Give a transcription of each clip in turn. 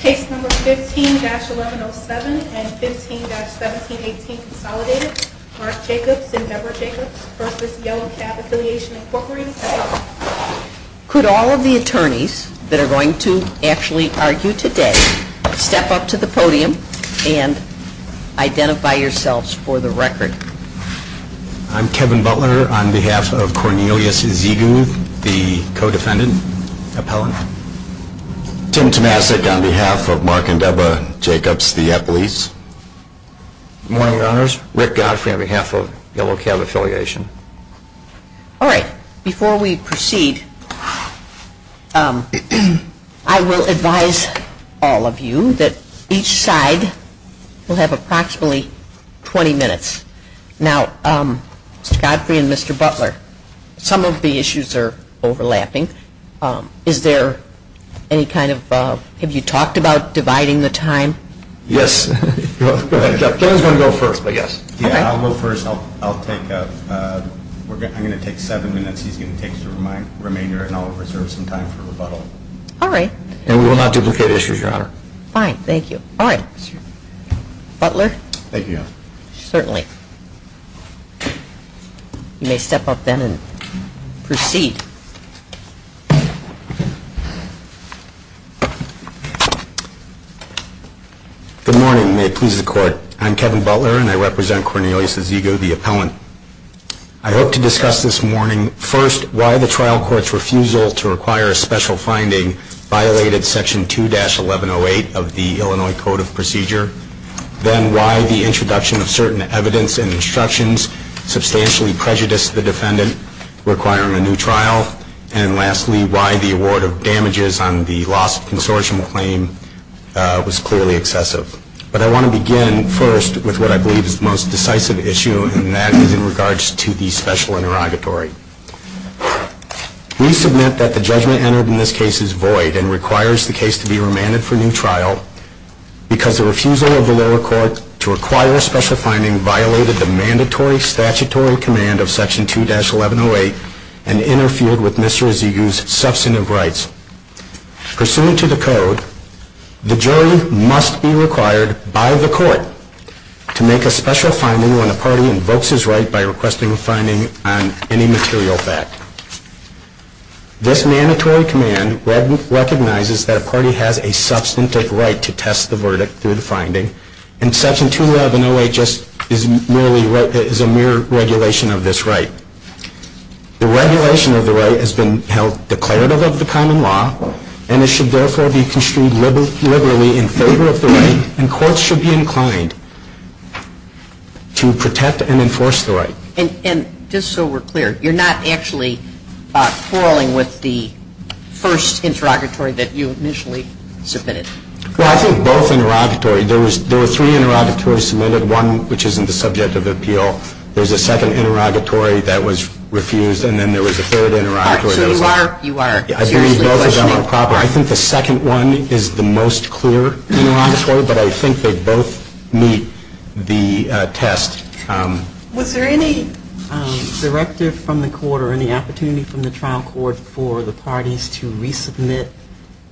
Case No. 15-11-07 and 15-17-18 consolidated. Mark Jacobs and Deborah Jacobs v. Yellow Cab Affiliation, Inc. Could all of the attorneys that are going to actually argue today step up to the podium and identify yourselves for the record. I'm Kevin Butler on behalf of Cornelius Vigou, the co-defendant appellant. Jim Tomasik on behalf of Mark and Deborah Jacobs v. Appellees. Good morning, Your Honors. Rick Godfrey on behalf of Yellow Cab Affiliation. All right. Before we proceed, I will advise all of you that each side will have approximately 20 minutes. Now, Godfrey and Mr. Butler, some of the issues are overlapping. Have you talked about dividing the time? Yes. I was going to go first, but yes. I'll go first. I'm going to take seven minutes. You can take the remainder and I'll reserve some time for rebuttal. All right. And we will not duplicate issues, Your Honor. Thank you, Your Honor. Certainly. You may step up then and proceed. Good morning and may it please the Court. I'm Kevin Butler and I represent Cornelius Vigou, the appellant. I hope to discuss this morning, first, why the trial court's refusal to require a special finding violated Section 2-1108 of the Illinois Code of Procedure, then why the introduction of certain evidence and instructions substantially prejudiced the defendant requiring a new trial, and lastly, why the award of damages on the loss of consortium claim was clearly excessive. But I want to begin first with what I believe is the most decisive issue, and that is in regards to the special interrogatory. We submit that the judgment entered in this case is void and requires the case to be remanded for new trial because the refusal of the lower court to require a special finding violated the mandatory statutory command of Section 2-1108 and interfered with Mr. Vigou's substantive rights. Pursuant to the Code, the jury must be required by the court to make a special finding when a party invokes his right by requesting a finding on any material fact. This mandatory command recognizes that a party has a substantive right to test the verdict through the finding, and Section 2-1108 just is a mere regulation of this right. The regulation of the right has been held declarative of the common law, and it should therefore be construed liberally in favor of the right, and courts should be inclined to protect and enforce the right. And just so we're clear, you're not actually quarreling with the first interrogatory that you initially submitted? Well, I think both interrogatories. There were three interrogatories submitted, one which isn't the subject of appeal. There's a second interrogatory that was refused, and then there was a third interrogatory that was not. So you are seriously questioning? I think the second one is the most clear interrogatory, but I think they both meet the test. Was there any directive from the court or any opportunity from the trial court for the parties to resubmit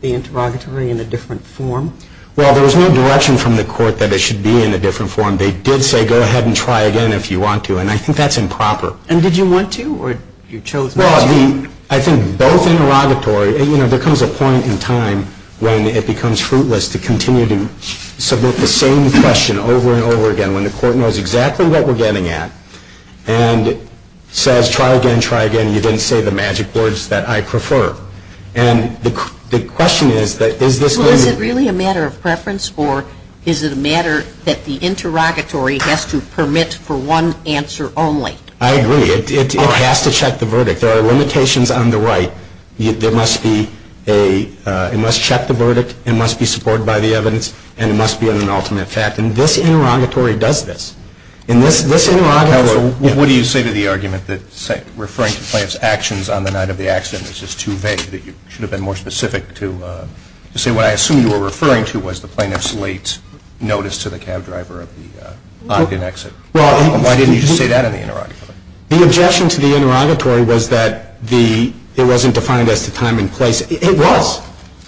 the interrogatory in a different form? Well, there was no direction from the court that it should be in a different form. They did say go ahead and try again if you want to, and I think that's improper. And did you want to, or you chose not to? Well, I think both interrogatories. There comes a point in time when it becomes fruitless to continue to submit the same question over and over again. And when the court knows exactly what we're getting at and says try again, try again, you didn't say the magic words that I prefer. And the question is, is this really a matter of preference, or is it a matter that the interrogatory has to permit for one answer only? I agree. It has to check the verdict. There are limitations on the right. It must check the verdict, it must be supported by the evidence, and it must be an ultimate fact. And this interrogatory does this. What do you say to the argument that referring to plaintiff's actions on the night of the accident is just too vague, that you should have been more specific to say what I assume you were referring to was the plaintiff's late notice to the cab driver of the Ogden exit? Why didn't you say that in the interrogatory? The objection to the interrogatory was that it wasn't defined as the time and place. It was.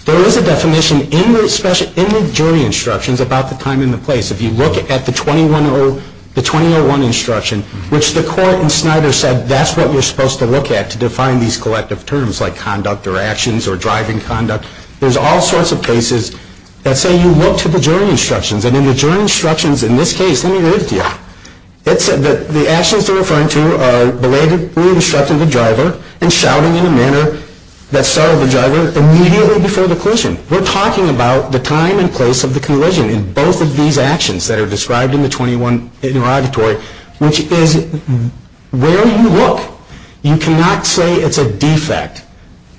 There is a definition in the jury instructions about the time and the place. If you look at the 2101 instruction, which the court in Snyder said that's what you're supposed to look at to define these collective terms, like conduct or actions or driving conduct, there's all sorts of cases that say you look to the jury instructions, and in the jury instructions in this case, let me read it to you. The actions you're referring to are belatedly obstructing the driver and shouting in a manner that startled the driver immediately before the collision. We're talking about the time and place of the collision in both of these actions that are described in the 21 interrogatory, which is where you look. You cannot say it's a defect.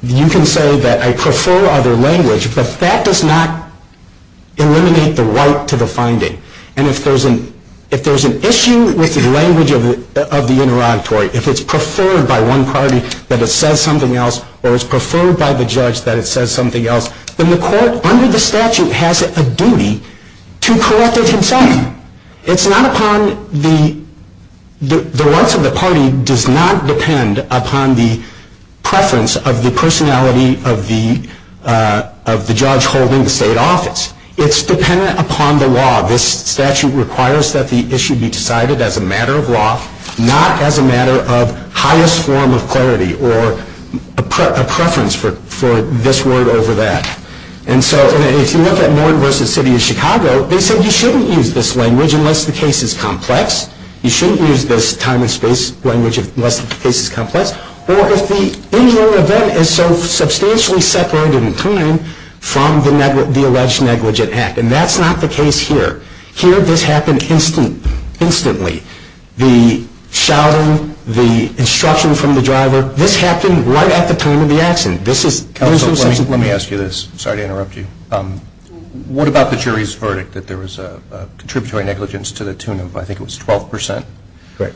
You can say that I prefer other language, but that does not eliminate the right to the finding. And if there's an issue with the language of the interrogatory, if it's preferred by one party that it says something else or it's preferred by the judge that it says something else, then the court under the statute has a duty to correct the consenting. The rights of the party does not depend upon the preference of the personality of the judge holding the state office. It's dependent upon the law. This statute requires that the issue be decided as a matter of law, not as a matter of highest form of clarity or a preference for this word over that. And so if you look at Norton v. City of Chicago, they said you shouldn't use this language unless the case is complex. You shouldn't use this time and space language unless the case is complex. Whereas the inward event is so substantially separated in time from the alleged negligent act, and that's not the case here. Here this happened instantly. The shouting, the instruction from the driver, this happened right at the time of the action. Let me ask you this. Sorry to interrupt you. What about the jury's verdict that there was a contributory negligence to the tune of I think it was 12 percent? Correct.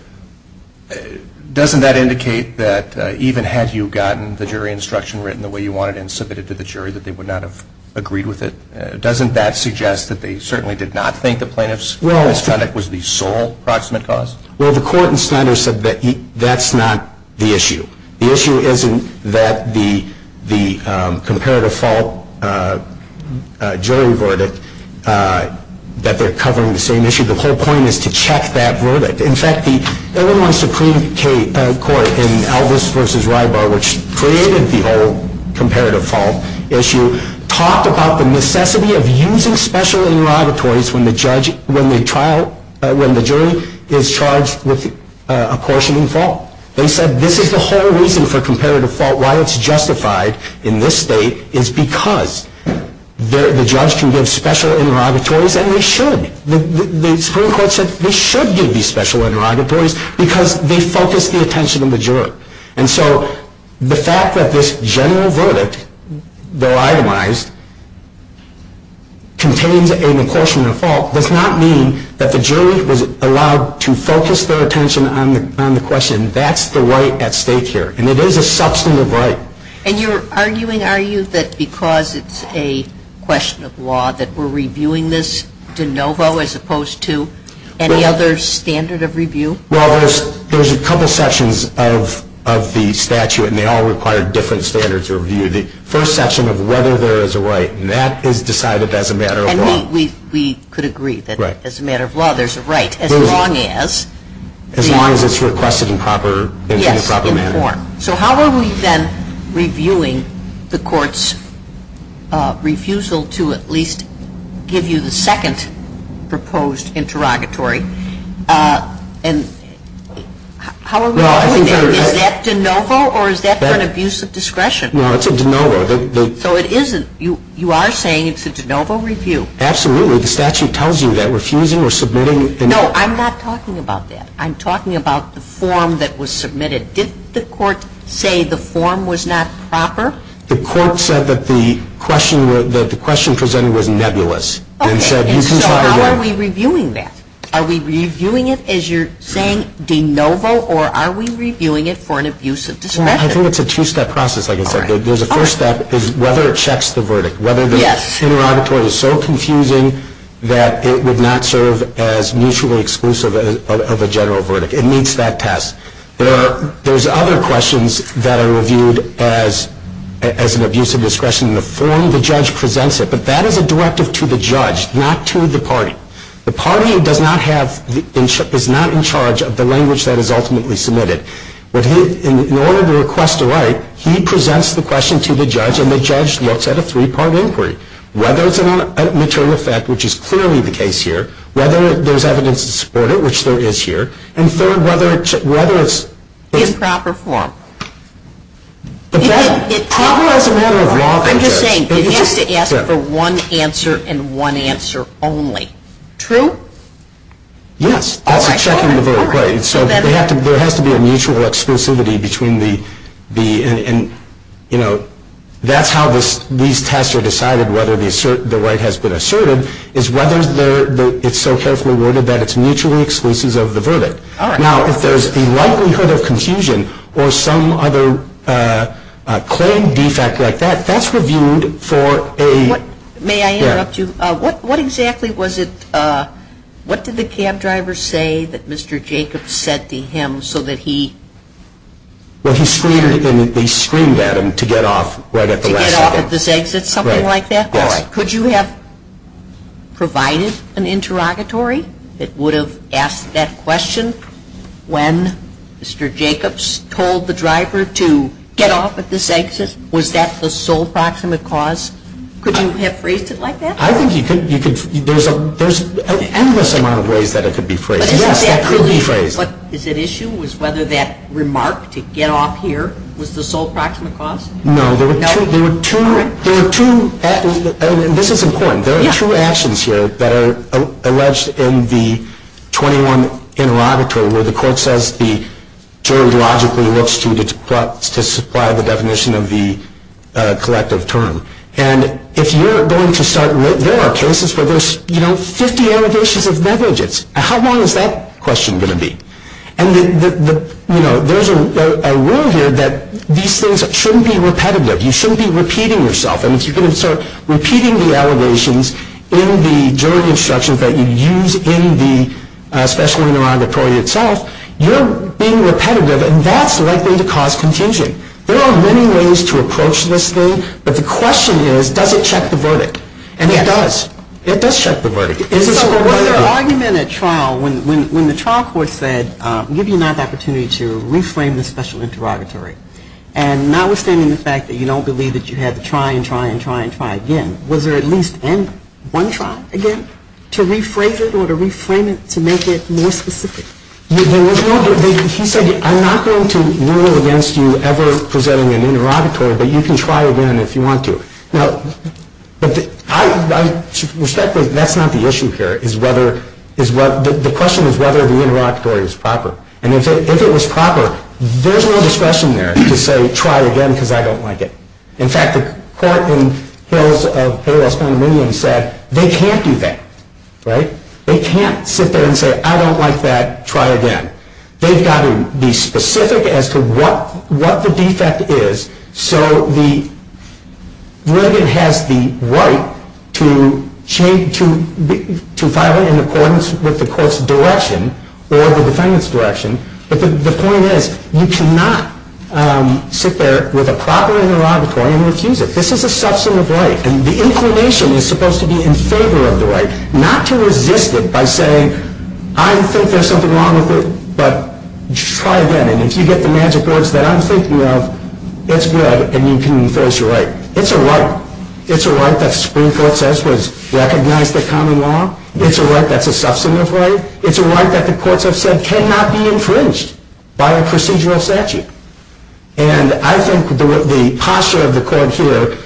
Doesn't that indicate that even had you gotten the jury instruction written the way you wanted and submitted it to the jury that they would not have agreed with it? Doesn't that suggest that they certainly did not think the plaintiff's verdict was the sole proximate cause? Well, the court in standard said that that's not the issue. The issue isn't that the comparative fault jury verdict, that they're covering the same issue. The whole point is to check that verdict. In fact, the Illinois Supreme Court in Elvis v. Rybar, which created the whole comparative fault issue, talked about the necessity of using special interrogatories when the jury is charged with apportioning fault. They said this is the whole reason for comparative fault. Why it's justified in this state is because the judge can give special interrogatories, and they should. The Supreme Court said they should give you special interrogatories because they focus the attention of the juror. And so the fact that this general verdict, though itemized, contains an apportion of fault, does not mean that the jury was allowed to focus their attention on the question. That's the right at stake here, and it is a substantive right. And you're arguing, are you, that because it's a question of law that we're reviewing this de novo as opposed to any other standard of review? Well, there's a couple sections of the statute, and they all require different standards of review. The first section of whether there is a right, and that is decided as a matter of law. And we could agree that as a matter of law, there's a right as long as... As long as it's requested in proper manner. So how are we then reviewing the court's refusal to at least give you the second proposed interrogatory? And is that de novo, or is that an abuse of discretion? No, it's a de novo. So it isn't. You are saying it's a de novo review. Absolutely. The statute tells you that. Refusing or submitting... No, I'm not talking about that. I'm talking about the form that was submitted. Did the court say the form was not proper? The court said that the question presented was nebulous. So how are we reviewing that? Are we reviewing it as you're saying de novo, or are we reviewing it for an abuse of discretion? Well, I think it's a two-step process, like you said. There's a first step, is whether it checks the verdict. Whether the interrogatory is so confusing that it would not serve as mutually exclusive of a general verdict. It meets that task. There's other questions that are reviewed as an abuse of discretion in the form the judge presents it, but that is a directive to the judge, not to the party. The party is not in charge of the language that is ultimately submitted. In order to request a right, he presents the question to the judge, and the judge looks at a three-part inquiry. Whether it's a maternal effect, which is clearly the case here. Whether there's evidence to support it, which there is here. And third, whether it's in proper form. I'm just saying, you have to ask for one answer and one answer only. True? Yes. So there has to be a mutual exclusivity between the, you know, that's how these tests are decided whether the right has been asserted, is whether it's so closely worded that it's mutually exclusive of the verdict. Now, if there's the likelihood of confusion or some other claimed defect like that, that's reviewed for a... May I interrupt you? What exactly was it, what did the cab driver say that Mr. Jacobs said to him so that he... Well, he screamed at him to get off right at the last minute. To get off at this exit, something like that? Right. Could you have provided an interrogatory that would have asked that question when Mr. Jacobs told the driver to get off at this exit? Was that the sole proximate cause? Could you have phrased it like that? I think you could. There's an endless amount of ways that it could be phrased. Yes, that could be phrased. But is it issue was whether that remark to get off here was the sole proximate cause? No, there were two actions here that are alleged in the 21 interrogatory where the court says the jury logically looks to supply the definition of the collective term. And if you're going to start... there are cases where there's 50 elevations of negligence. How long is that question going to be? And there's a rule here that these things shouldn't be repetitive. You shouldn't be repeating yourself. And if you're going to start repeating the elevations in the jury instructions that you use in the special interrogatory itself, you're being repetitive, and that's likely to cause contingent. There are many ways to approach this thing, but the question is does it check the verdict? And it does. It does check the verdict. When the trial court said, give me an opportunity to reframe the special interrogatory, and notwithstanding the fact that you don't believe that you have to try and try and try again, was there at least one trial again to reframe it or to reframe it to make it more specific? He said, I'm not going to rule against you ever presenting an interrogatory, but you can try again if you want to. Now, that's not the issue here. The question is whether the interrogatory was proper. And if it was proper, there's no discretion there to say, try again because I don't like it. In fact, the court in Hills of Fayette County said they can't do that. They can't sit there and say, I don't like that, try again. They've got to be specific as to what the defect is, so the verdict has the right to violate in accordance with the court's direction or the defendant's direction. But the point is you cannot sit there with a proper interrogatory and refuse it. This is a substance of life, and the information is supposed to be in favor of the right, not to resist it by saying, I don't think there's something wrong with it, but try again. And if you get the magic words that I'm thinking of, it's good, and you can enforce your right. It's a right. It's a right that the Supreme Court says was recognized as common law. It's a right that's a substantive right. It's a right that the courts have said cannot be infringed by a procedural statute. And I think the posture of the court here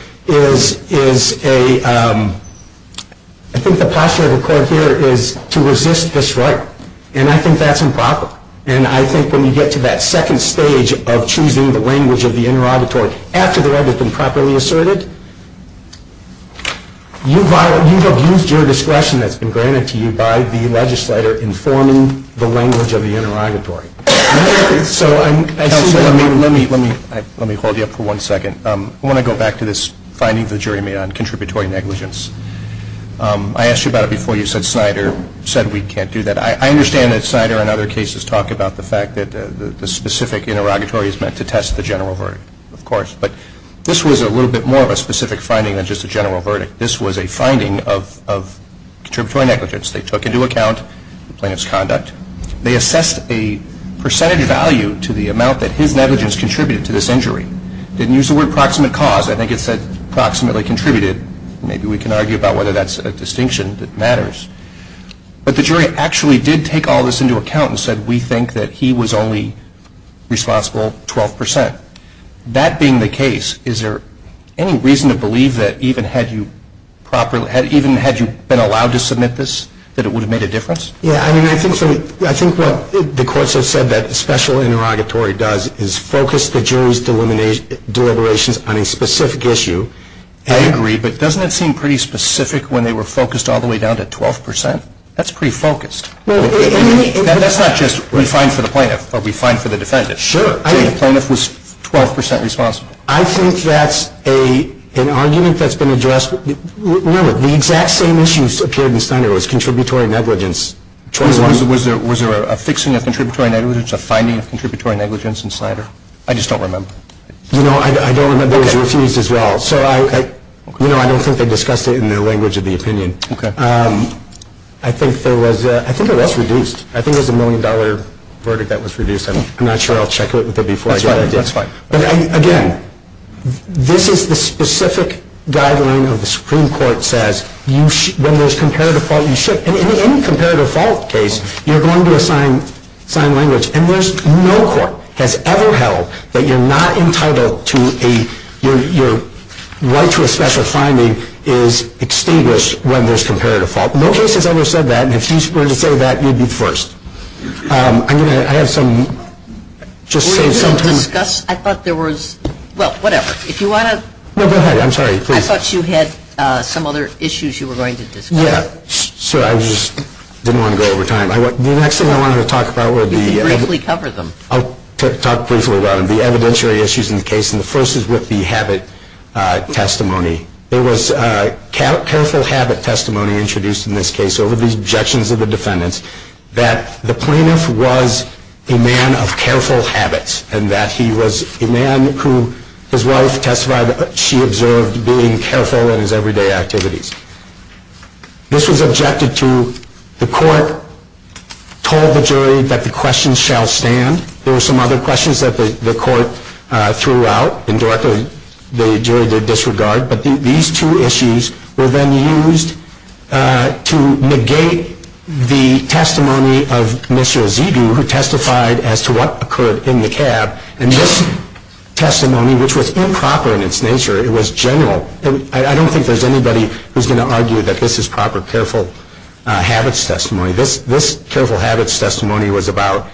is to resist the strike, and I think that's improper. And I think when you get to that second stage of choosing the language of the interrogatory after the verdict has been properly asserted, you have used your discretion that's been granted to you by the legislature in forming the language of the interrogatory. So as I said, let me hold you up for one second. I want to go back to this finding the jury made on contributory negligence. I asked you about it before you said Snyder said we can't do that. I understand that Snyder and other cases talk about the fact that the specific interrogatory is meant to test the general verdict, of course, but this was a little bit more of a specific finding than just a general verdict. This was a finding of contributory negligence. They took into account the plaintiff's conduct. They assessed a percentage of value to the amount that his negligence contributed to this injury. They didn't use the word proximate cause. I think it said proximately contributed. Maybe we can argue about whether that's a distinction that matters. But the jury actually did take all this into account and said we think that he was only responsible 12%. That being the case, is there any reason to believe that even had you been allowed to submit this, that it would have made a difference? Yeah, I mean, I think the courts have said that special interrogatory does focus the jury's deliberations on a specific issue. I agree, but doesn't it seem pretty specific when they were focused all the way down to 12%? That's pretty focused. That's not just refined for the plaintiff or refined for the defendant. Sure. I mean, the plaintiff was 12% responsible. I think that's an argument that's been addressed. The exact same issues appeared in Snyder. It was contributory negligence. Was there a fixing of contributory negligence, a finding of contributory negligence in Snyder? I just don't remember. You know, I don't remember. They refused as well. So, you know, I don't think they discussed it in their language of the opinion. Okay. I think there was, I think it was reduced. I think it was a million-dollar verdict that was reduced. I'm not sure. I'll check with them before I judge. That's fine. But, again, this is the specific guideline that the Supreme Court says when there's comparative fault, you should. In any comparative fault case, you're going to assign language. And there's no court that's ever held that you're not entitled to a, your right to a special finding is extinguished when there's comparative fault. No case has ever said that. And if she's going to say that, you'd be first. I have some, just say something. I thought there was, well, whatever. If you want to. No, go ahead. I'm sorry. Please. I thought you had some other issues you were going to discuss. Yeah. Sure. I just didn't want to go over time. The next thing I wanted to talk about would be. Briefly cover them. I'll talk briefly about the evidentiary issues in the case. And the first is with the habit testimony. There was careful habit testimony introduced in this case over the objections of the defendants that the plaintiff was a man of careful habits. And that he was a man who, as well as testified, she observed being careful in his everyday activities. This was objected to. The court told the jury that the question shall stand. There were some other questions that the court threw out, and directly the jury did disregard. But these two issues were then used to negate the testimony of Mitchell Zidu, who testified as to what occurred in the cab. And this testimony, which was improper in its nature, it was general. I don't think there's anybody who's going to argue that this is proper careful habits testimony. This careful habits testimony was about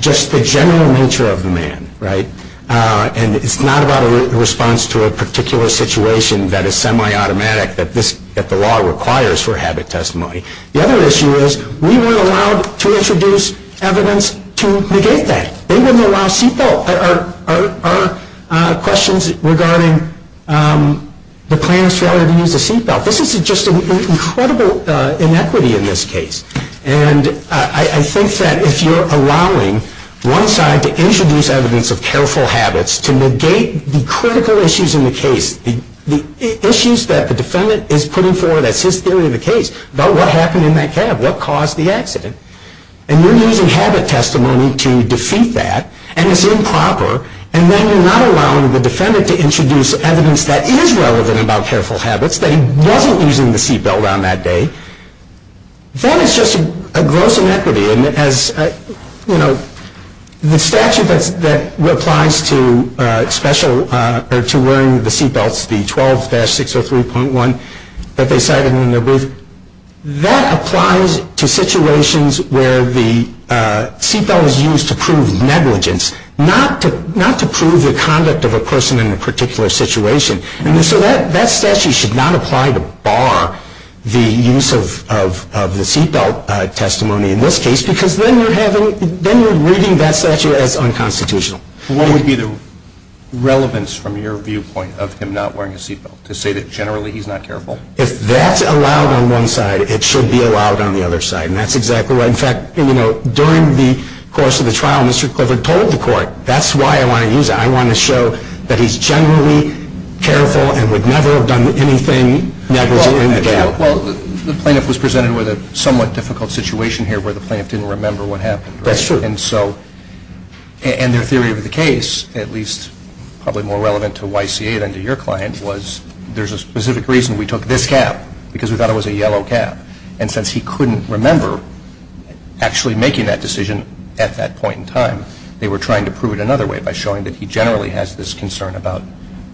just the general nature of the man. Right? And it's not about a response to a particular situation that is semi-automatic that the law requires for habit testimony. The other issue is we were allowed to introduce evidence to negate that. They didn't allow seatbelts. There are questions regarding the plaintiff's failure to use the seatbelt. This is just an incredible inequity in this case. And I think that if you're allowing one side to introduce evidence of careful habits to negate the critical issues in the case, the issues that the defendant is putting forward as his theory of the case about what happened in that cab, what caused the accident, and you're using habit testimony to defeat that, and it's improper, and then you're not allowing the defendant to introduce evidence that is relevant about careful habits, that he wasn't using the seatbelt around that day, then it's just a gross inequity. The statute that applies to wearing the seatbelts, the 12-603.1 that they cited in the brief, that applies to situations where the seatbelt is used to prove negligence, not to prove the conduct of a person in a particular situation. And so that statute should not apply to bar the use of the seatbelt testimony in this case because then you're reading that statute as unconstitutional. What would be the relevance from your viewpoint of him not wearing a seatbelt, to say that generally he's not careful? If that's allowed on one side, it should be allowed on the other side, and that's exactly right. In fact, during the course of the trial, Mr. Clifford told the court, that's why I want to use it. I want to show that he's generally careful and would never have done anything negligent. Well, the plaintiff was presented with a somewhat difficult situation here where the plaintiff didn't remember what happened. That's true. And their theory of the case, at least probably more relevant to YCA than to your client, was there's a specific reason we took this cap because we thought it was a yellow cap. And since he couldn't remember actually making that decision at that point in time, they were trying to prove it another way by showing that he generally has this concern about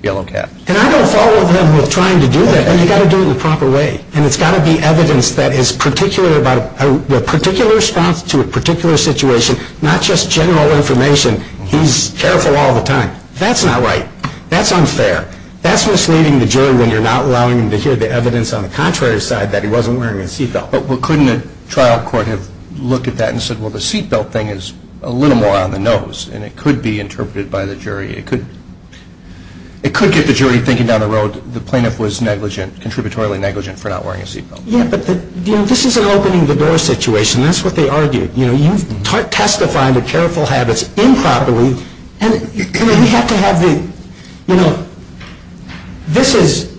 yellow caps. And I don't follow him with trying to do that. I mean, you've got to do it the proper way. And it's got to be evidence that is particular about the particular statute, particular situation, not just general information. He's careful all the time. That's not right. That's unfair. That's misleading the jury when you're not allowing them to hear the evidence on the contrary side that he wasn't wearing a seatbelt. Well, couldn't a trial court have looked at that and said, well, the seatbelt thing is a little more on the nose, and it could be interpreted by the jury. It could get the jury thinking down the road the plaintiff was negligent, contributorily negligent for not wearing a seatbelt. Yeah, but this is an opening the door situation. That's what they argued. You testify to careful habits improperly, and we have to have the, you know, this is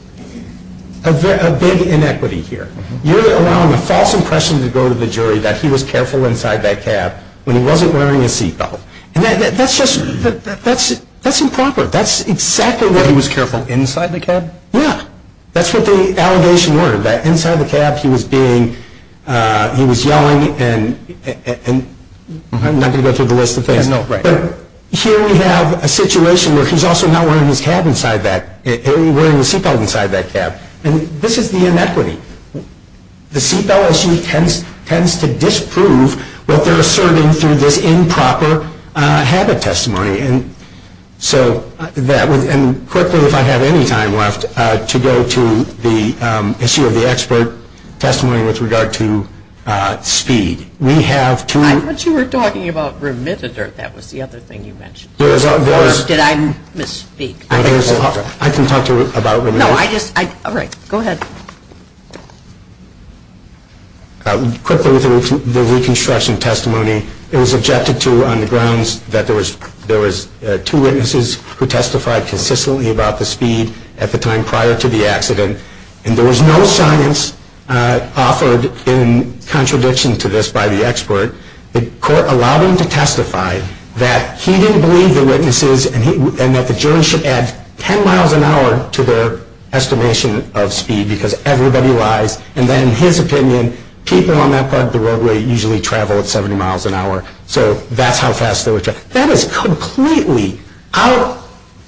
a big inequity here. You're allowing a false impression to go to the jury that he was careful inside that cab when he wasn't wearing a seatbelt. And that's just improper. That's exactly what he was careful. Inside the cab? Yeah. That's what the allegation were, that inside the cab he was being, he was yelling, and I'm not going to go through the list of things. No, right. But here we have a situation where he's also not wearing a seatbelt inside that cab. And this is the inequity. The seatbelt issue tends to disprove what they're asserting through this improper habit testimony. And so that would, and quickly, if I had any time left, to go to the issue of the expert testimony with regard to speed. We have to. I'm not sure you're talking about remissness, or if that was the other thing you mentioned. Did I misspeak? I can talk to you about remissness. No, I just, all right, go ahead. Quickly, the reconstruction testimony. It was objected to on the grounds that there was two witnesses who testified consistently about the speed at the time prior to the accident. And there was no silence offered in contradiction to this by the expert. The court allowed him to testify that he didn't believe the witnesses and that the jury should add 10 miles an hour to their estimation of speed because everybody lies. And then in his opinion, people on that part of the roadway usually travel at 70 miles an hour. So that's how fast they were traveling. That is completely out,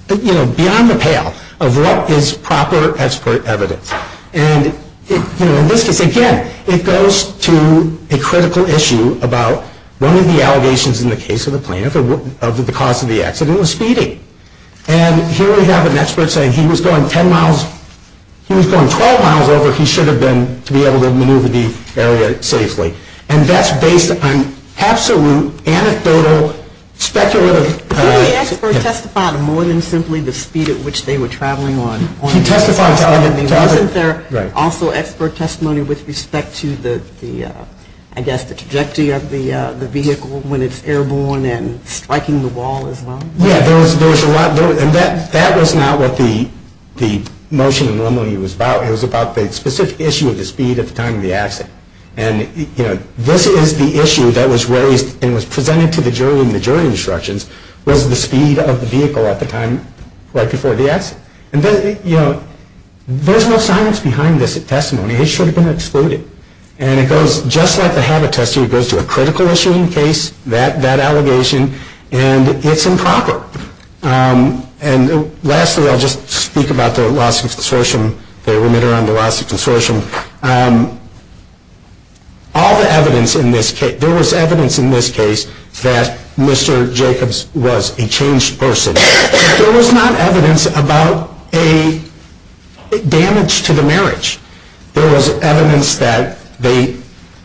you know, beyond the pale of what is proper expert evidence. And, you know, again, it goes to a critical issue about one of the allegations in the case of the plaintiff of the cause of the accident was speeding. And here we have an expert saying he was going 10 miles, he was going 12 miles over if he should have been to be able to maneuver the area safely. And that's based on absolute anecdotal speculative evidence. Did the expert testify to more than simply the speed at which they were traveling? Also, expert testimony with respect to the, I guess, the trajectory of the vehicle when it's airborne and striking the wall as well? Yeah, there was a lot. And that was not what the motion in the memorandum was about. It was about the specific issue of the speed at the time of the accident. And, you know, this is the issue that was raised and was presented to the jury in the jury instructions was the speed of the vehicle at the time right before the accident. And then, you know, there's no science behind this testimony. It should have been excluded. And it goes just like the habit test, it goes to a critical issue in the case, that allegation, and it's improper. And lastly, I'll just speak about the lawsuit consortium. They were there on the lawsuit consortium. All the evidence in this case, there was evidence in this case that Mr. Jacobs was a changed person. There was not evidence about a damage to the marriage. There was evidence that they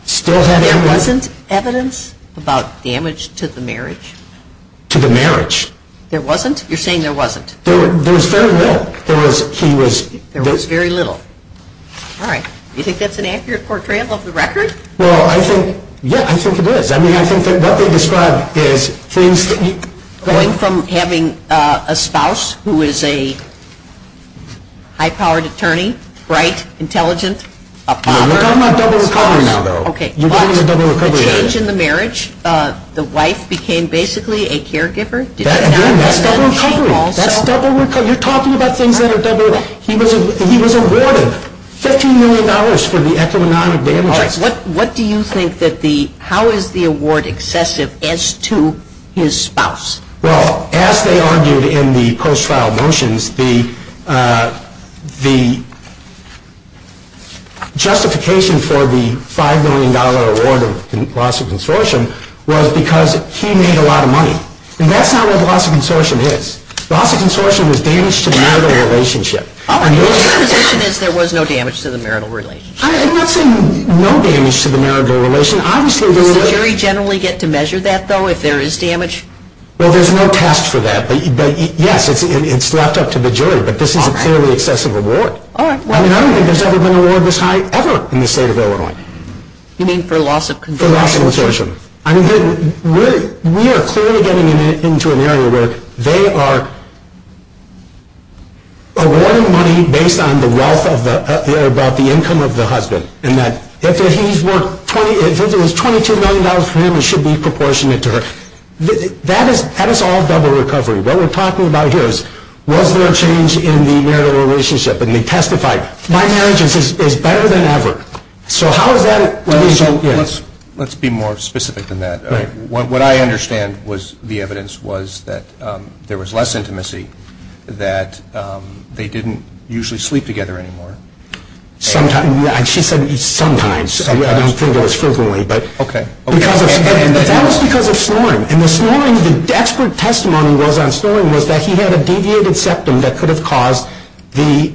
still had a... There wasn't evidence about damage to the marriage? To the marriage. There wasn't? You're saying there wasn't. There was very little. There was very little. All right. You think that's an accurate portrayal of the record? Well, I think, yeah, I think it is. I mean, I think that what they described is... Going from having a spouse who is a high-powered attorney, bright, intelligent, a father. No, I'm not talking about the father now, though. Okay. The change in the marriage, the wife became basically a caregiver? That's double recovery. That's double recovery. You're talking about things that are double... He was awarded $15 million for the economic damage. What do you think that the... How is the award excessive as to his spouse? Well, as they argued in the post-trial motions, the justification for the $5 million award of loss of consortium was because he made a lot of money. And that's not what loss of consortium is. Loss of consortium is damage to the marital relationship. Your interpretation is there was no damage to the marital relationship. I'm not saying no damage to the marital relationship. Does the jury generally get to measure that, though, if there is damage? Well, there's no test for that. Yes, it's wrapped up to the jury, but there's not a clearly excessive award. I don't think there's ever been an award this high, ever, in the state of Illinois. You mean for loss of consortium? For loss of consortium. We are clearly getting into an area where they are awarding money based on the wealth, about the income of the husband, and that if he's worth $22 million to him, it should be proportionate to her. That is all double recovery. What we're talking about here is was there a change in the marital relationship? And they testified, my marriage is better than ever. So how would that result in? Let's be more specific than that. What I understand was the evidence was that there was less intimacy, that they didn't usually sleep together anymore. Sometimes. She said sometimes. I didn't think of it strictly. Okay. That was because of Sloan. And the Sloan, the expert testimony was on Sloan was that he had a deviated septum that could have caused the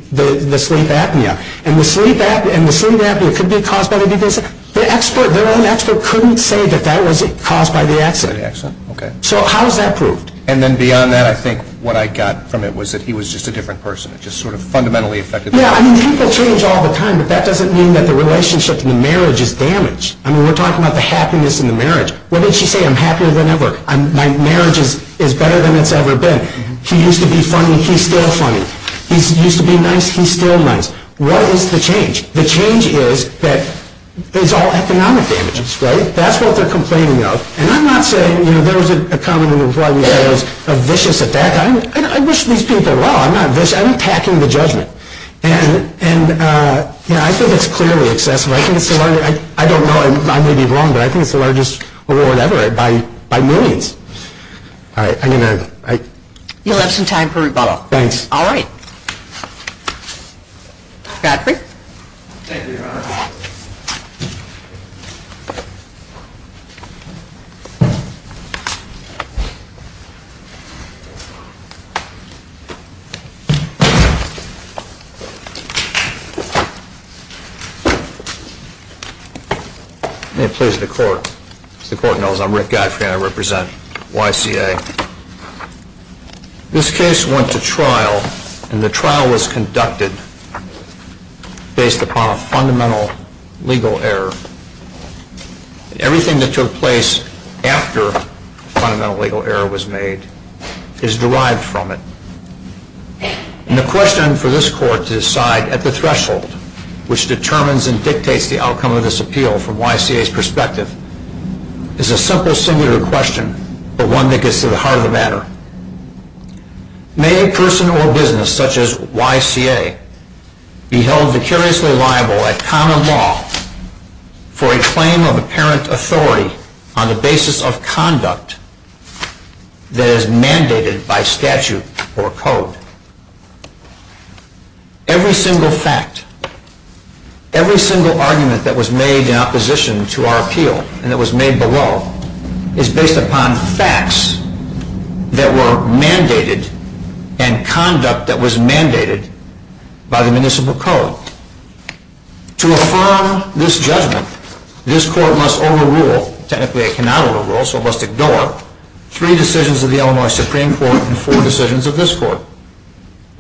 sleep apnea. And the sleep apnea could be caused by the deviated septum. The expert, their own expert couldn't say that that was caused by the accident. Okay. So how is that proved? And then beyond that, I think what I got from it was that he was just a different person. It just sort of fundamentally affected the relationship. People change all the time, but that doesn't mean that the relationship and the marriage is damaged. I mean, we're talking about the happiness in the marriage. Well, let's just say I'm happier than ever. My marriage is better than it's ever been. He used to be funny. He's still funny. He used to be nice. He's still nice. What is the change? The change is that there's all economic damage. Right? That's what they're complaining about. And I'm not saying, you know, there's a common reform that is a vicious attack. I wish these people well. I'm not vicious. I'm attacking the judgment. And, you know, I think it's clearly excessive. I don't know. I may be wrong, but I think the largest award ever by millions. All right. I need a minute. You'll have some time for rebuttal. Thanks. All right. Captain. Thank you, Your Honor. May it please the court. The court knows I'm Rick Geithner. I represent YCA. This case went to trial, and the trial was conducted based upon a fundamental legal error. Everything that took place after a fundamental legal error was made is derived from it. And the question for this court to decide at the threshold, which determines and dictates the outcome of this appeal from YCA's perspective, is a simple, similar question, but one that gets to the heart of the matter. May a person or a business such as YCA be held vicariously liable at common law for a claim of apparent authority on the basis of conduct that is mandated by statute or code? Every single fact, every single argument that was made in opposition to our appeal and that was made below is based upon facts that were mandated and conduct that was mandated by the municipal code. To affirm this judgment, this court must overrule, technically it cannot overrule, so it must ignore, three decisions of the Illinois Supreme Court and four decisions of this court.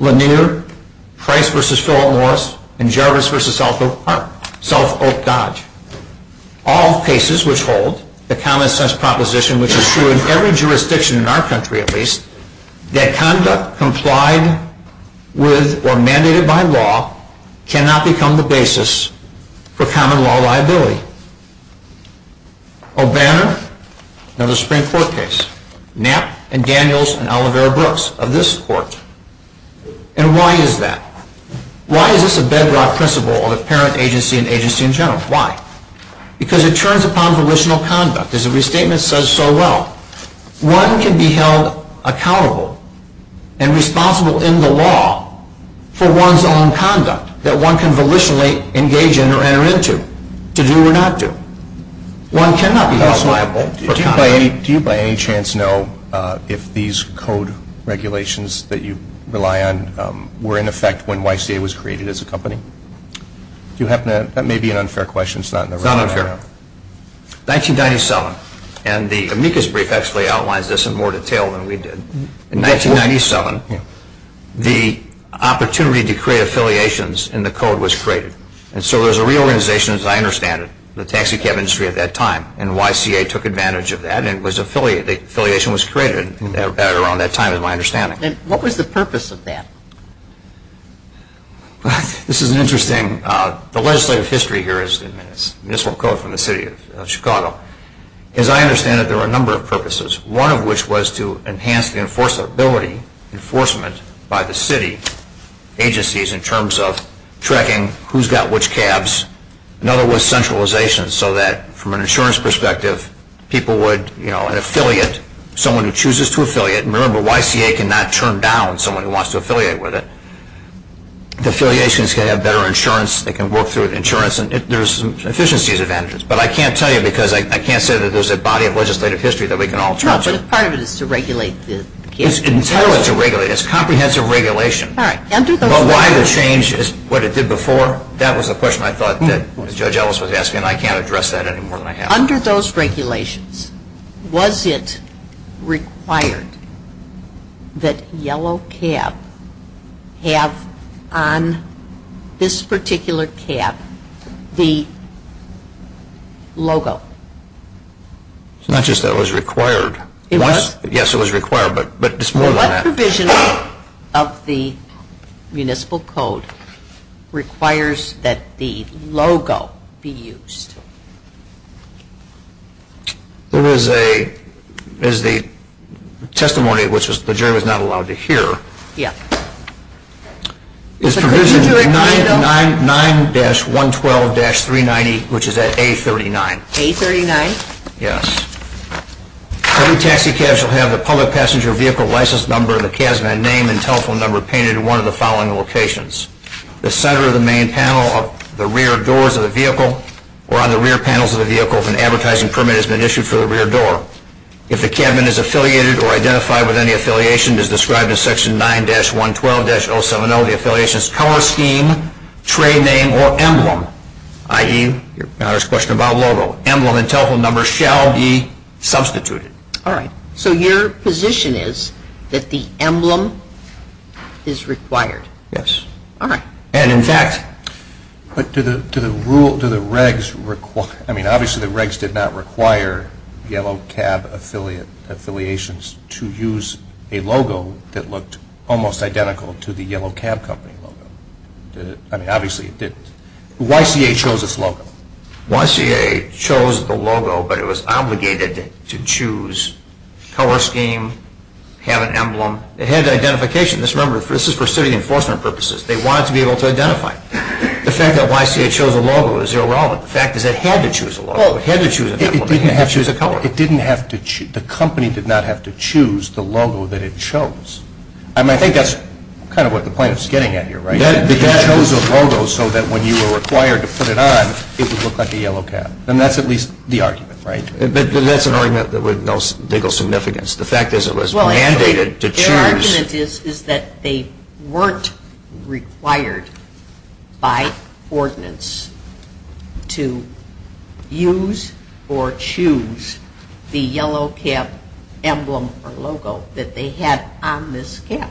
Lanier, Price v. Stroll Morris, and Jarvis v. South Oak Park, South Oak Dodge. All cases which hold the common-sense proposition, which is true in every jurisdiction in our country at least, that conduct complied with or mandated by law cannot become the basis for common law liability. O'Banner and the Supreme Court case. Knapp and Daniels and Olivera Brooks of this court. And why is that? Why is this a bedrock principle of apparent agency and agency in general? Why? Because it turns upon volitional conduct. As the restatement says so well. One can be held accountable and responsible in the law for one's own conduct that one can volitionally engage in or enter into, to do or not to. One cannot be held liable. Do you by any chance know if these code regulations that you rely on were in effect when YCA was created as a company? That may be an unfair question. It's not unfair. 1997, and the amicus brief actually outlines this in more detail than we did. In 1997, the opportunity to create affiliations in the code was created. And so there was a reorganization, as I understand it, in the taxi cab industry at that time. And YCA took advantage of that and the affiliation was created around that time, as I understand it. And what was the purpose of that? This is interesting. The legislative history here is municipal code from the city of Chicago. One of which was to enhance the enforceability, enforcement by the city agencies in terms of tracking who's got which cabs. Another was centralization so that from an insurance perspective, people would, you know, an affiliate, someone who chooses to affiliate, and remember YCA cannot turn down someone who wants to affiliate with it. Affiliations can have better insurance and can work through insurance and there's efficiencies advantages. But I can't tell you because I can't say that there's a body of legislative history that we can all trust. No, but part of it is to regulate the cabs. It's entirely to regulate. It's comprehensive regulation. All right. But why the change is what it did before, that was a question I thought that Judge Ellis was asking, and I can't address that any more than I have. Under those regulations, was it required that yellow cab have on this particular cab the logo? It's not just that it was required. It was? Yes, it was required, but it's more than that. The provision of the municipal code requires that the logo be used. There is a testimony which the jury was not allowed to hear. Yes. It's provision 9-112-390, which is at A39. A39? Yes. Some taxi cabs will have the public passenger vehicle license number, the cab's name, and telephone number painted in one of the following locations. The center of the main panel of the rear doors of the vehicle or on the rear panels of the vehicle if an advertising permit has been issued for the rear door. If the cabin is affiliated or identified with any affiliation as described in section 9-112-070, the affiliation's color scheme, trade name, or emblem, i.e., now there's a question about logo, emblem, and telephone number, shall be substituted. All right. So your position is that the emblem is required? Yes. All right. And, in fact, to the regs, I mean, obviously the regs did not require yellow cab affiliations to use a logo that looked almost identical to the yellow cab company logo. I mean, obviously it didn't. YCA chose its logo. YCA chose the logo, but it was obligated to choose color scheme, have an emblem. It had identification. Remember, this is for city enforcement purposes. They wanted to be able to identify it. The fact that YCA chose a logo is irrelevant. The fact is they had to choose a logo. They had to choose an emblem. It didn't have to choose a color. It didn't have to choose. The company did not have to choose the logo that it chose. I mean, I think that's kind of what the point is getting at here, right? YCA chose a logo so that when you were required to put it on, it would look like the yellow cab. And that's at least the argument, frankly. But that's an argument with no legal significance. The fact is it was mandated to choose. Their argument is that they weren't required by ordinance to use or choose the yellow cab emblem or logo that they had on this cab.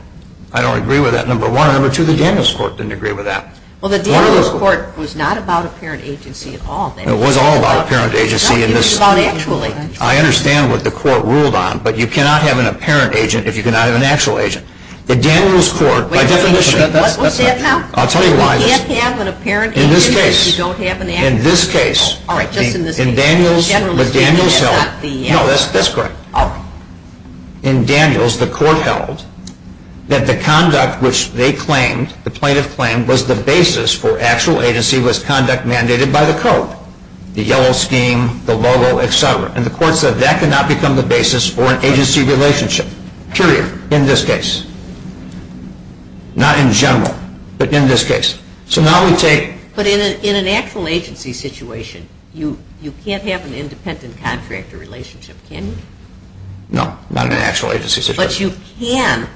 I don't agree with that, number one. And number two, the Daniels court didn't agree with that. Well, the Daniels court was not about a parent agency at all. It was all about a parent agency. It was about actually. I understand what the court ruled on. But you cannot have an apparent agent if you cannot have an actual agent. The Daniels court, by definition. What's that now? I'll tell you why. You can't have an apparent agent if you don't have an actual agent. In this case, in Daniels, the Daniels held. No, that's correct. In Daniels, the court held that the conduct which they claimed, the plaintiff claimed, was the basis for actual agency was conduct mandated by the code. The yellow scheme, the logo, et cetera. And the court said that cannot become the basis for an agency relationship. Period. In this case. Not in general. But in this case. But in an actual agency situation, you can't have an independent contractor relationship, can you? No. Not in an actual agency situation. But you can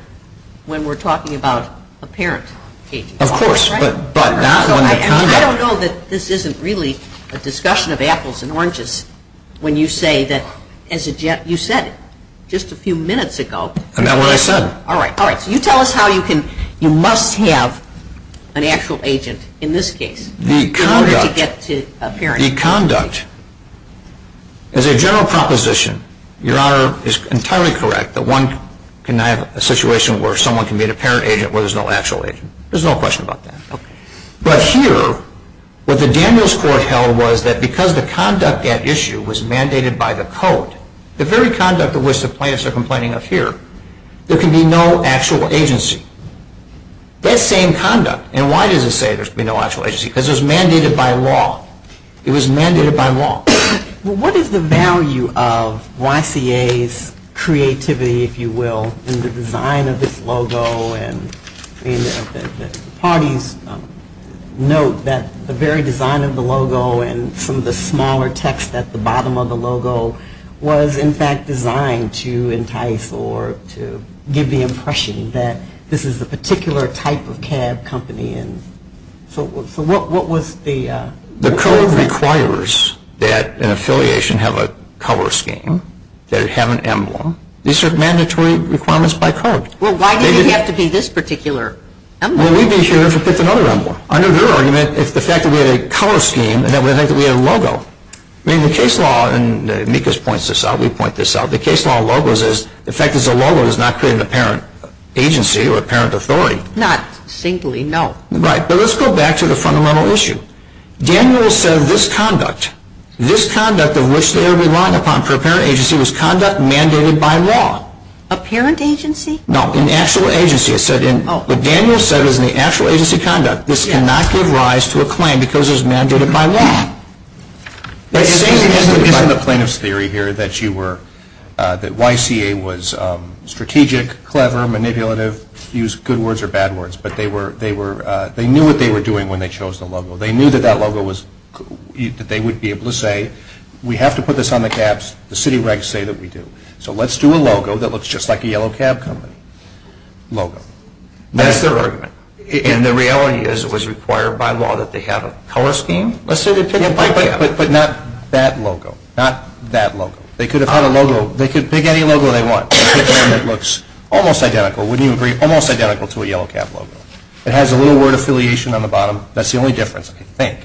when we're talking about apparent agent. Of course. But not in that context. I don't know that this isn't really a discussion of apples and oranges when you say that, you said it just a few minutes ago. And that's what I said. All right. So you tell us how you can, you must have an actual agent in this case. The conduct. In order to get to apparent agent. The conduct. As a general proposition, Your Honor is entirely correct that one can have a situation where someone can be an apparent agent where there's no actual agent. There's no question about that. Okay. But here, what the Daniels court held was that because the conduct at issue was mandated by the code, the very conduct of which the plaintiffs are complaining of here, there can be no actual agency. That same conduct. And why does it say there can be no actual agency? Because it was mandated by law. It was mandated by law. What is the value of YCA's creativity, if you will, in the design of this logo? And the parties note that the very design of the logo and some of the smaller text at the bottom of the logo was, in fact, designed to entice or to give the impression that this is a particular type of cab company. So what was the? The code requires that an affiliation have a color scheme, that it have an emblem. These are mandatory requirements by code. Well, why did it have to be this particular emblem? Well, we'd be sure to put another emblem. Under their argument, it's the fact that we had a color scheme and that we had a logo. I mean, the case law, and Amicus points this out, we point this out, the case law of logos is the fact that a logo does not create an apparent agency or apparent authority. Not simply, no. Right. But let's go back to the fundamental issue. Daniels said this conduct, this conduct in which they rely upon for apparent agency was conduct mandated by law. Apparent agency? No, in actual agency. What Daniels said is in the actual agency conduct, this cannot give rise to a claim because it's mandated by law. But isn't the plaintiff's theory here that you were, that YCA was strategic, clever, manipulative, used good words or bad words, but they were, they knew what they were doing when they chose the logo. They knew that that logo was, that they would be able to say, we have to put this on the cabs. The city regs say that we do. So let's do a logo that looks just like a yellow cab company. Logo. That's their argument. And the reality is it was required by law that they have a color scheme. But not that logo. Not that logo. They could have had a logo, they could pick any logo they want. It looks almost identical, wouldn't you agree, almost identical to a yellow cab logo. It has a little word affiliation on the bottom. That's the only difference, I think.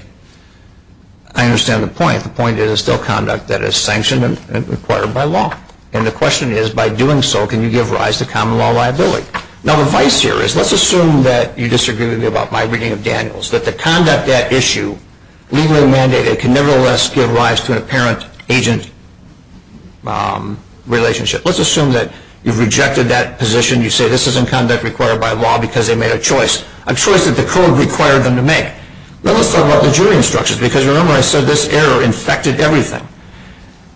I understand the point. The point is it's still conduct that is sanctioned and required by law. And the question is, by doing so, can you give rise to common law liability? Now the vice here is, let's assume that you disagree with me about my reading of Daniels, that the conduct at issue, legally mandated, can nevertheless give rise to an apparent agent relationship. Let's assume that you've rejected that position. You say this isn't conduct required by law because they made a choice, a choice that the code required them to make. Now let's talk about the jury instructions, because remember I said this error infected everything.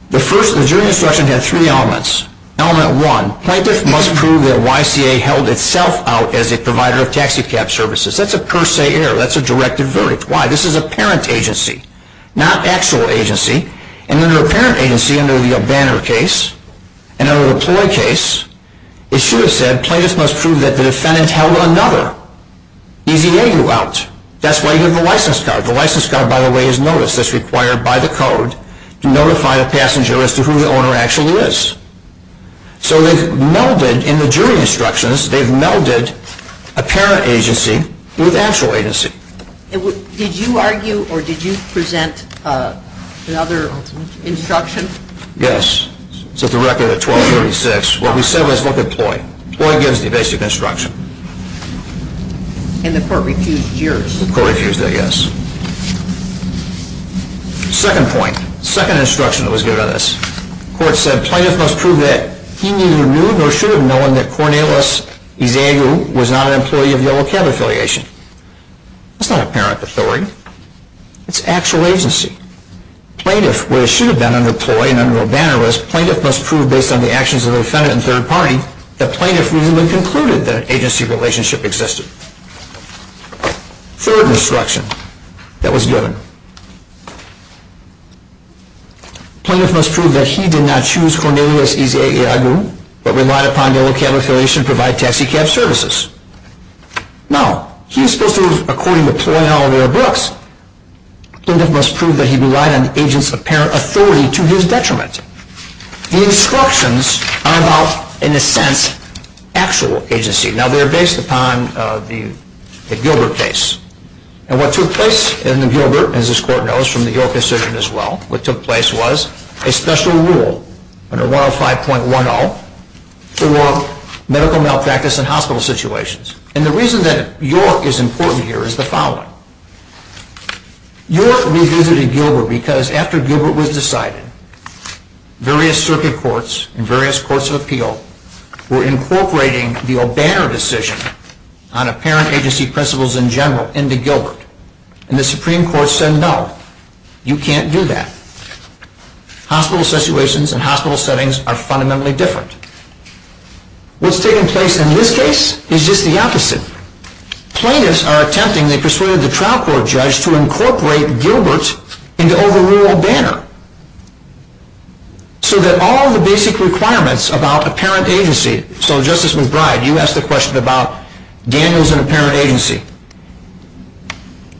The first jury instruction had three elements. Element one, plaintiff must prove that YCA held itself out as a provider of taxicab services. That's a per se error. That's a directed verdict. Why? This is a parent agency, not actual agency. And under a parent agency, and there will be a banner case, and under a employee case, it should have said, plaintiff must prove that the defendant held another, easy way to go out. That's why you have a license card. The license card, by the way, is notice. That's required by the code to notify a passenger as to who the owner actually is. So they've melded, in the jury instructions, they've melded a parent agency through the actual agency. Did you argue or did you present another instruction? Yes. It's a record of 1236. What we said was, look at Ploy. Ploy gives the basic instruction. And the court repeats yours. The court repeats that, yes. Second point, second instruction that was given on this. The court said, plaintiff must prove that he neither knew nor should have known that Cornelius Evangelou was not an employee of Yellow Cab Affiliation. It's not a parent authority. It's actual agency. Plaintiff, where it should have been under Ploy, and under a banner list, plaintiff must prove based on the actions of the defendant and third party that plaintiff knew and concluded that an agency relationship existed. Third instruction that was given. Plaintiff must prove that he did not choose Cornelius Evangelou but relied upon Yellow Cab Affiliation to provide taxicab services. Now, here's this is according to Ploy, Halloway, or Brooks. Plaintiff must prove that he relied on an agent's parent authority to his detriment. The instructions are about, in a sense, actual agency. Now, they're based upon the Gilbert case. And what took place in the Gilbert, as this court knows from the Gilbert decision as well, what took place was a special rule under 105.10 for medical malpractice in hospital situations. And the reason that your is important here is the following. You're revisiting Gilbert because after Gilbert was decided, various circuit courts and various courts of appeal were incorporating the O'Banner decision on apparent agency principles in general into Gilbert. And the Supreme Court said, no, you can't do that. Hospital situations and hospital settings are fundamentally different. What's taking place in his case is just the opposite. Plaintiffs are attempting, they persuaded the trial court judge, to incorporate Gilbert's into O'Banner. So that all the basic requirements about apparent agency, so Justice McBride, you asked the question about Daniels and apparent agency.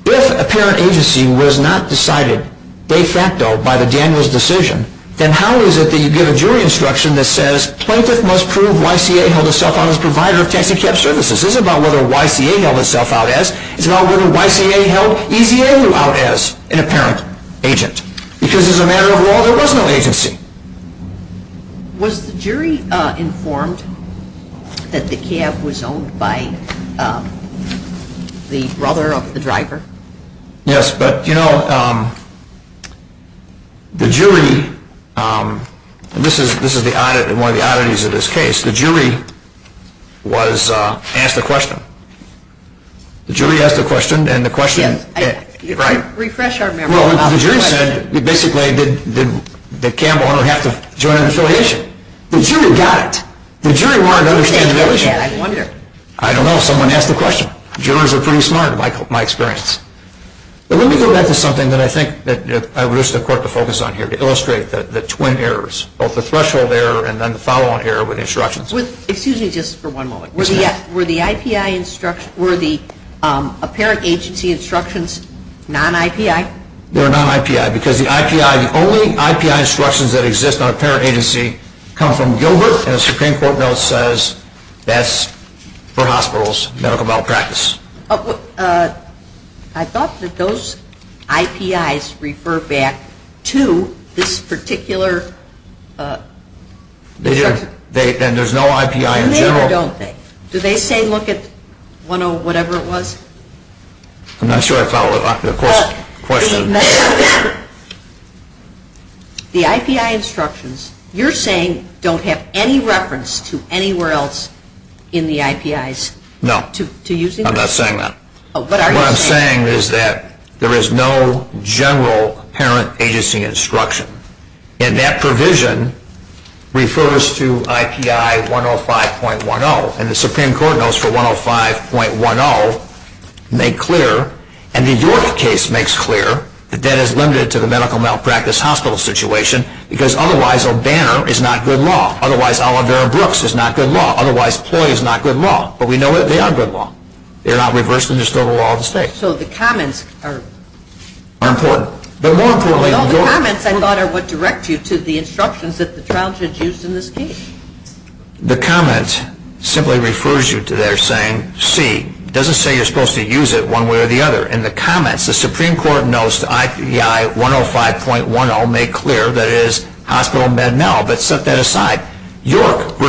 If apparent agency was not decided de facto by the Daniels decision, then how is it that you get a jury instruction that says, plaintiff must prove YCA held a self-honored provider of taxicab services? It's not about whether YCA held itself out as, it's about whether YCA held EVA out as an apparent agent. Because as a matter of law, there was no agency. Was the jury informed that the cab was owned by the brother of the driver? Yes, but you know, the jury, and this is one of the oddities of this case, the jury was asked a question. The jury asked a question, and the question, right? Refresh our memory. Well, the jury said, basically, did the cab owner have to join an affiliation? The jury got it. The jury wanted to understand the relationship. I don't know, someone asked the question. Jurors are pretty smart, in my experience. But let me go back to something that I think I would wish the court to focus on here, to illustrate the twin errors, both the threshold error and then the follow-on error with instructions. Excuse me just for one moment. Were the IPI instructions, were the apparent agency instructions non-IPI? They're non-IPI because the IPI, the only IPI instructions that exist on a parent agency come from Gilbert, and the Supreme Court bill says that's for hospitals, medical malpractice. I thought that those IPIs refer back to this particular instruction. Then there's no IPI in general? No, there don't. Do they say look at 1-0-whatever-it-was? I'm not sure I followed the question. The IPI instructions, you're saying don't have any reference to anywhere else in the IPIs? No. I'm not saying that. What I'm saying is that there is no general parent agency instruction, and that provision refers to IPI 105.10, and the Supreme Court notes for 105.10 make clear, and the York case makes clear that that is limited to the medical malpractice hospital situation because otherwise O'Banner is not good law, otherwise Oliver and Brooks is not good law, otherwise Ploy is not good law, but we know that they are good law. They're not reversed and they're still the law of the state. So the comments are important. The comments, I thought, are what direct you to the instructions that the Childhood used in this case. The comments simply refers you to their saying, see, it doesn't say you're supposed to use it one way or the other. In the comments, the Supreme Court notes the IPI 105.10 make clear that it is hospital and bed mal, but set that aside. York v.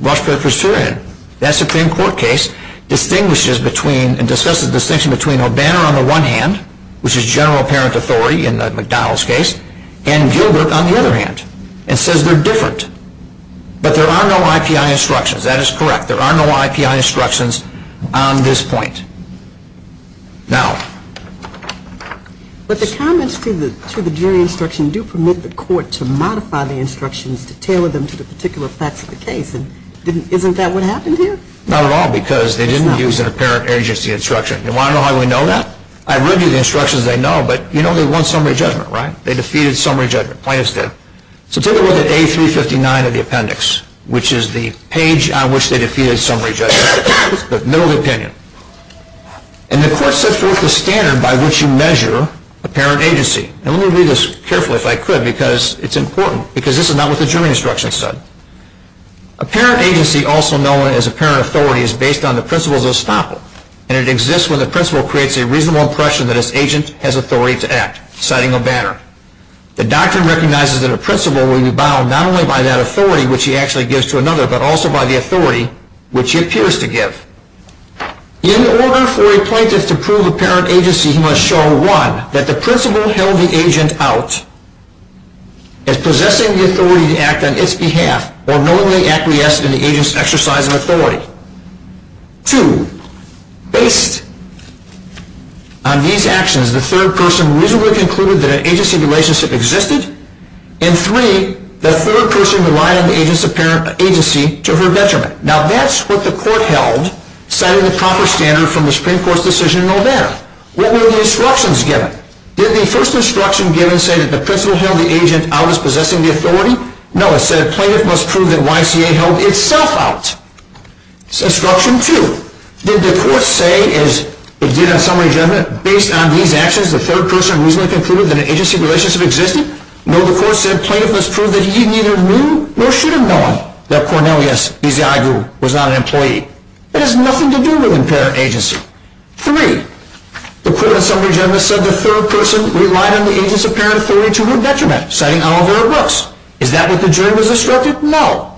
Rochefort v. Turahan, that Supreme Court case distinguishes between, and discusses the distinction between O'Banner on the one hand, which is general parent authority in the McDonald's case, and Gilbert on the other hand, and says they're different. But there are no IPI instructions. That is correct. There are no IPI instructions on this point. Now... But the comments through the jury instruction do permit the court to modify the instructions to tailor them to the particular facts of the case. Isn't that what happened here? Not at all, because they didn't use their parent agency instruction. And why do we know that? I review the instructions, they know, but you know they won summary judgment, right? They defeated summary judgment. Plaintiffs did. So take a look at A359 of the appendix, which is the page on which they defeated summary judgment. But no opinion. And the court sets forth the standard by which you measure a parent agency. And let me read this carefully if I could, because it's important, because this is not what the jury instruction said. A parent agency, also known as a parent authority, is based on the principles of estoppel, and it exists when the principal creates a reasonable impression that his agent has authority to act, citing O'Banner. The doctrine recognizes that a principal will be bound not only by that authority, which he actually gives to another, but also by the authority which he appears to give. In order for a plaintiff to prove a parent agency, he must show, one, that the principal held the agent out as possessing the authority to act on its behalf or knowingly acquiescing in the agent's exercise of authority. Two, based on these actions, the third person reasonably concluded that an agency relationship existed. And three, the third person relied on the agency to her detriment. Now, that's what the court held, citing the proper standard from the Supreme Court's decision in November. What were the instructions given? Did the first instruction given say that the principal held the agent out as possessing the authority? No, it said, plaintiff must prove that YTA held itself out. Instruction two. Did the court say, as it did on summary judgment, that based on these actions, the third person reasonably concluded that an agency relationship existed? No, the court said, plaintiff must prove that he neither knew nor should have known that Cornelius Eziagu was not an employee. That has nothing to do with a parent agency. Three, the court on summary judgment said the third person relied on the agency's parent authority to her detriment, citing all of their books. Is that what the jury was instructed? No.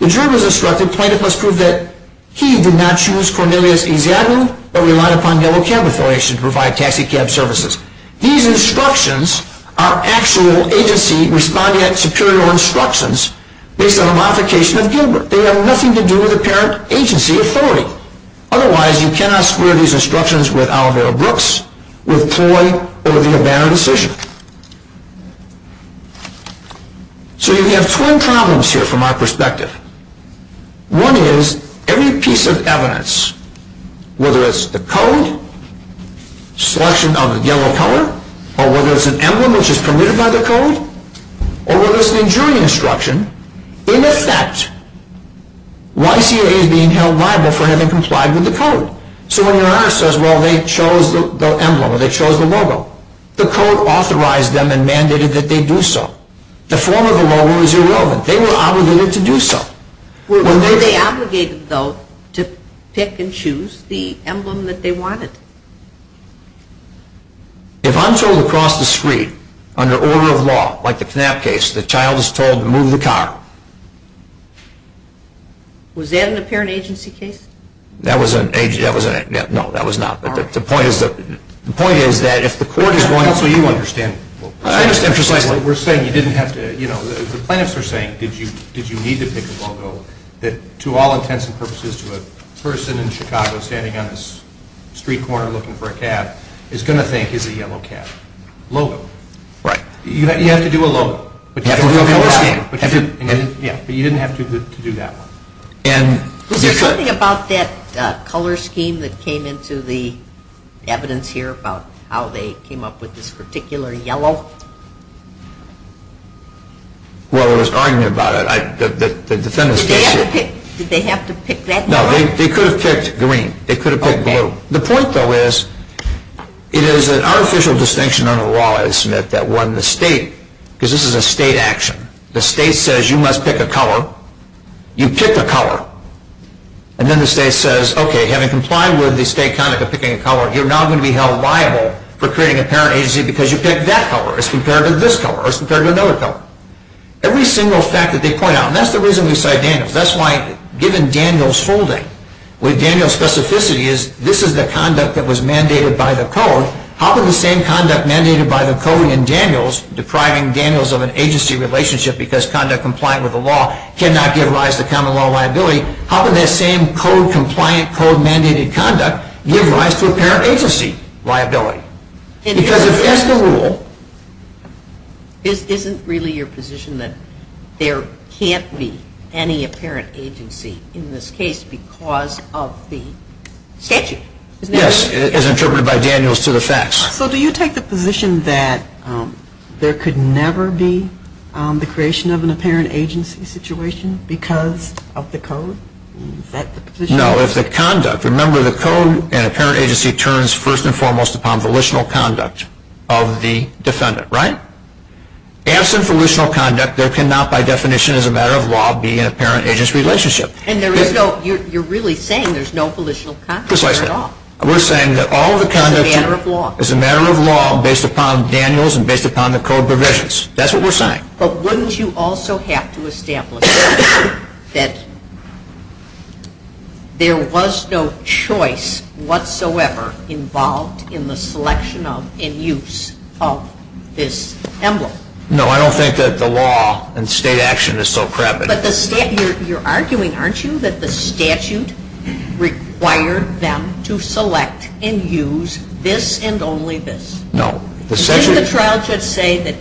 The jury was instructed, plaintiff must prove that he did not choose Cornelius Eziagu or relied upon Yellow Cabin Foundation to provide taxicab services. These instructions are actual agency respondent superior instructions based on a modification of Gilbert. They have nothing to do with a parent agency authority. Otherwise, you cannot square these instructions with Oliver Brooks, with Troy, or the O'Bannon decision. One is, every piece of evidence, whether it's the code, selection on the yellow color, or whether it's an emblem which is permitted by the code, or whether it's an injury instruction, in effect, YTA is being held liable for having complied with the code. So when we're asked, well, they chose the emblem, or they chose the logo, the code authorized them and mandated that they do so. The form of the law was irrelevant. They were obligated to do so. Were they obligated, though, to pick and choose the emblem that they wanted? If I'm told across the street, under order of law, like the Knapp case, the child is told to move the car. Was that in the parent agency case? That was in it. No, that was not. The point is that if the court is wanting... We're saying you didn't have to... The plaintiffs are saying, did you need to pick a logo, that to all intents and purposes, a person in Chicago standing on a street corner looking for a cat is going to think it's a yellow cat. Logo. Right. You had to do a logo. But you didn't have to do that one. Something about that color scheme that came into the evidence here about how they came up with this particular yellow? Well, there was argument about it. Did they have to pick that? No, they could have picked green. They could have picked blue. The point, though, is it is an artificial distinction under the law, as Smith said, that won the state. Because this is a state action. The state says you must pick a color. You pick a color. And then the state says, okay, having complied with the state conduct of picking a color, you're now going to be held liable for creating a parent agency because you picked that color as compared to this color or as compared to another color. Every single fact that they point out, and that's the reason we cite Daniels. That's why, given Daniels' holding, what Daniels' specificity is, this is the conduct that was mandated by the code. How can the same conduct mandated by the code in Daniels, depriving Daniels of an agency relationship because conduct compliant with the law cannot give rise to common law liability, how can that same code compliant, code mandated conduct give rise to a parent agency liability? Because it is the rule. This isn't really your position that there can't be any apparent agency in this case because of the statute, is it? Yes, as interpreted by Daniels to the facts. So do you take the position that there could never be the creation of an apparent agency situation because of the code? No, it's the conduct. Remember, the code and apparent agency turns first and foremost upon volitional conduct of the defendant, right? Absent volitional conduct, there cannot, by definition, as a matter of law, be an apparent agency relationship. You're really saying there's no volitional conduct at all? Precisely. We're saying that all the conduct is a matter of law based upon Daniels and based upon the code provisions. That's what we're saying. But wouldn't you also have to establish that there was no choice whatsoever involved in the selection and use of this emblem? No, I don't think that the law and state action is so crappy. But you're arguing, aren't you, that the statute required them to select and use this and only this? No. Didn't the charge just say that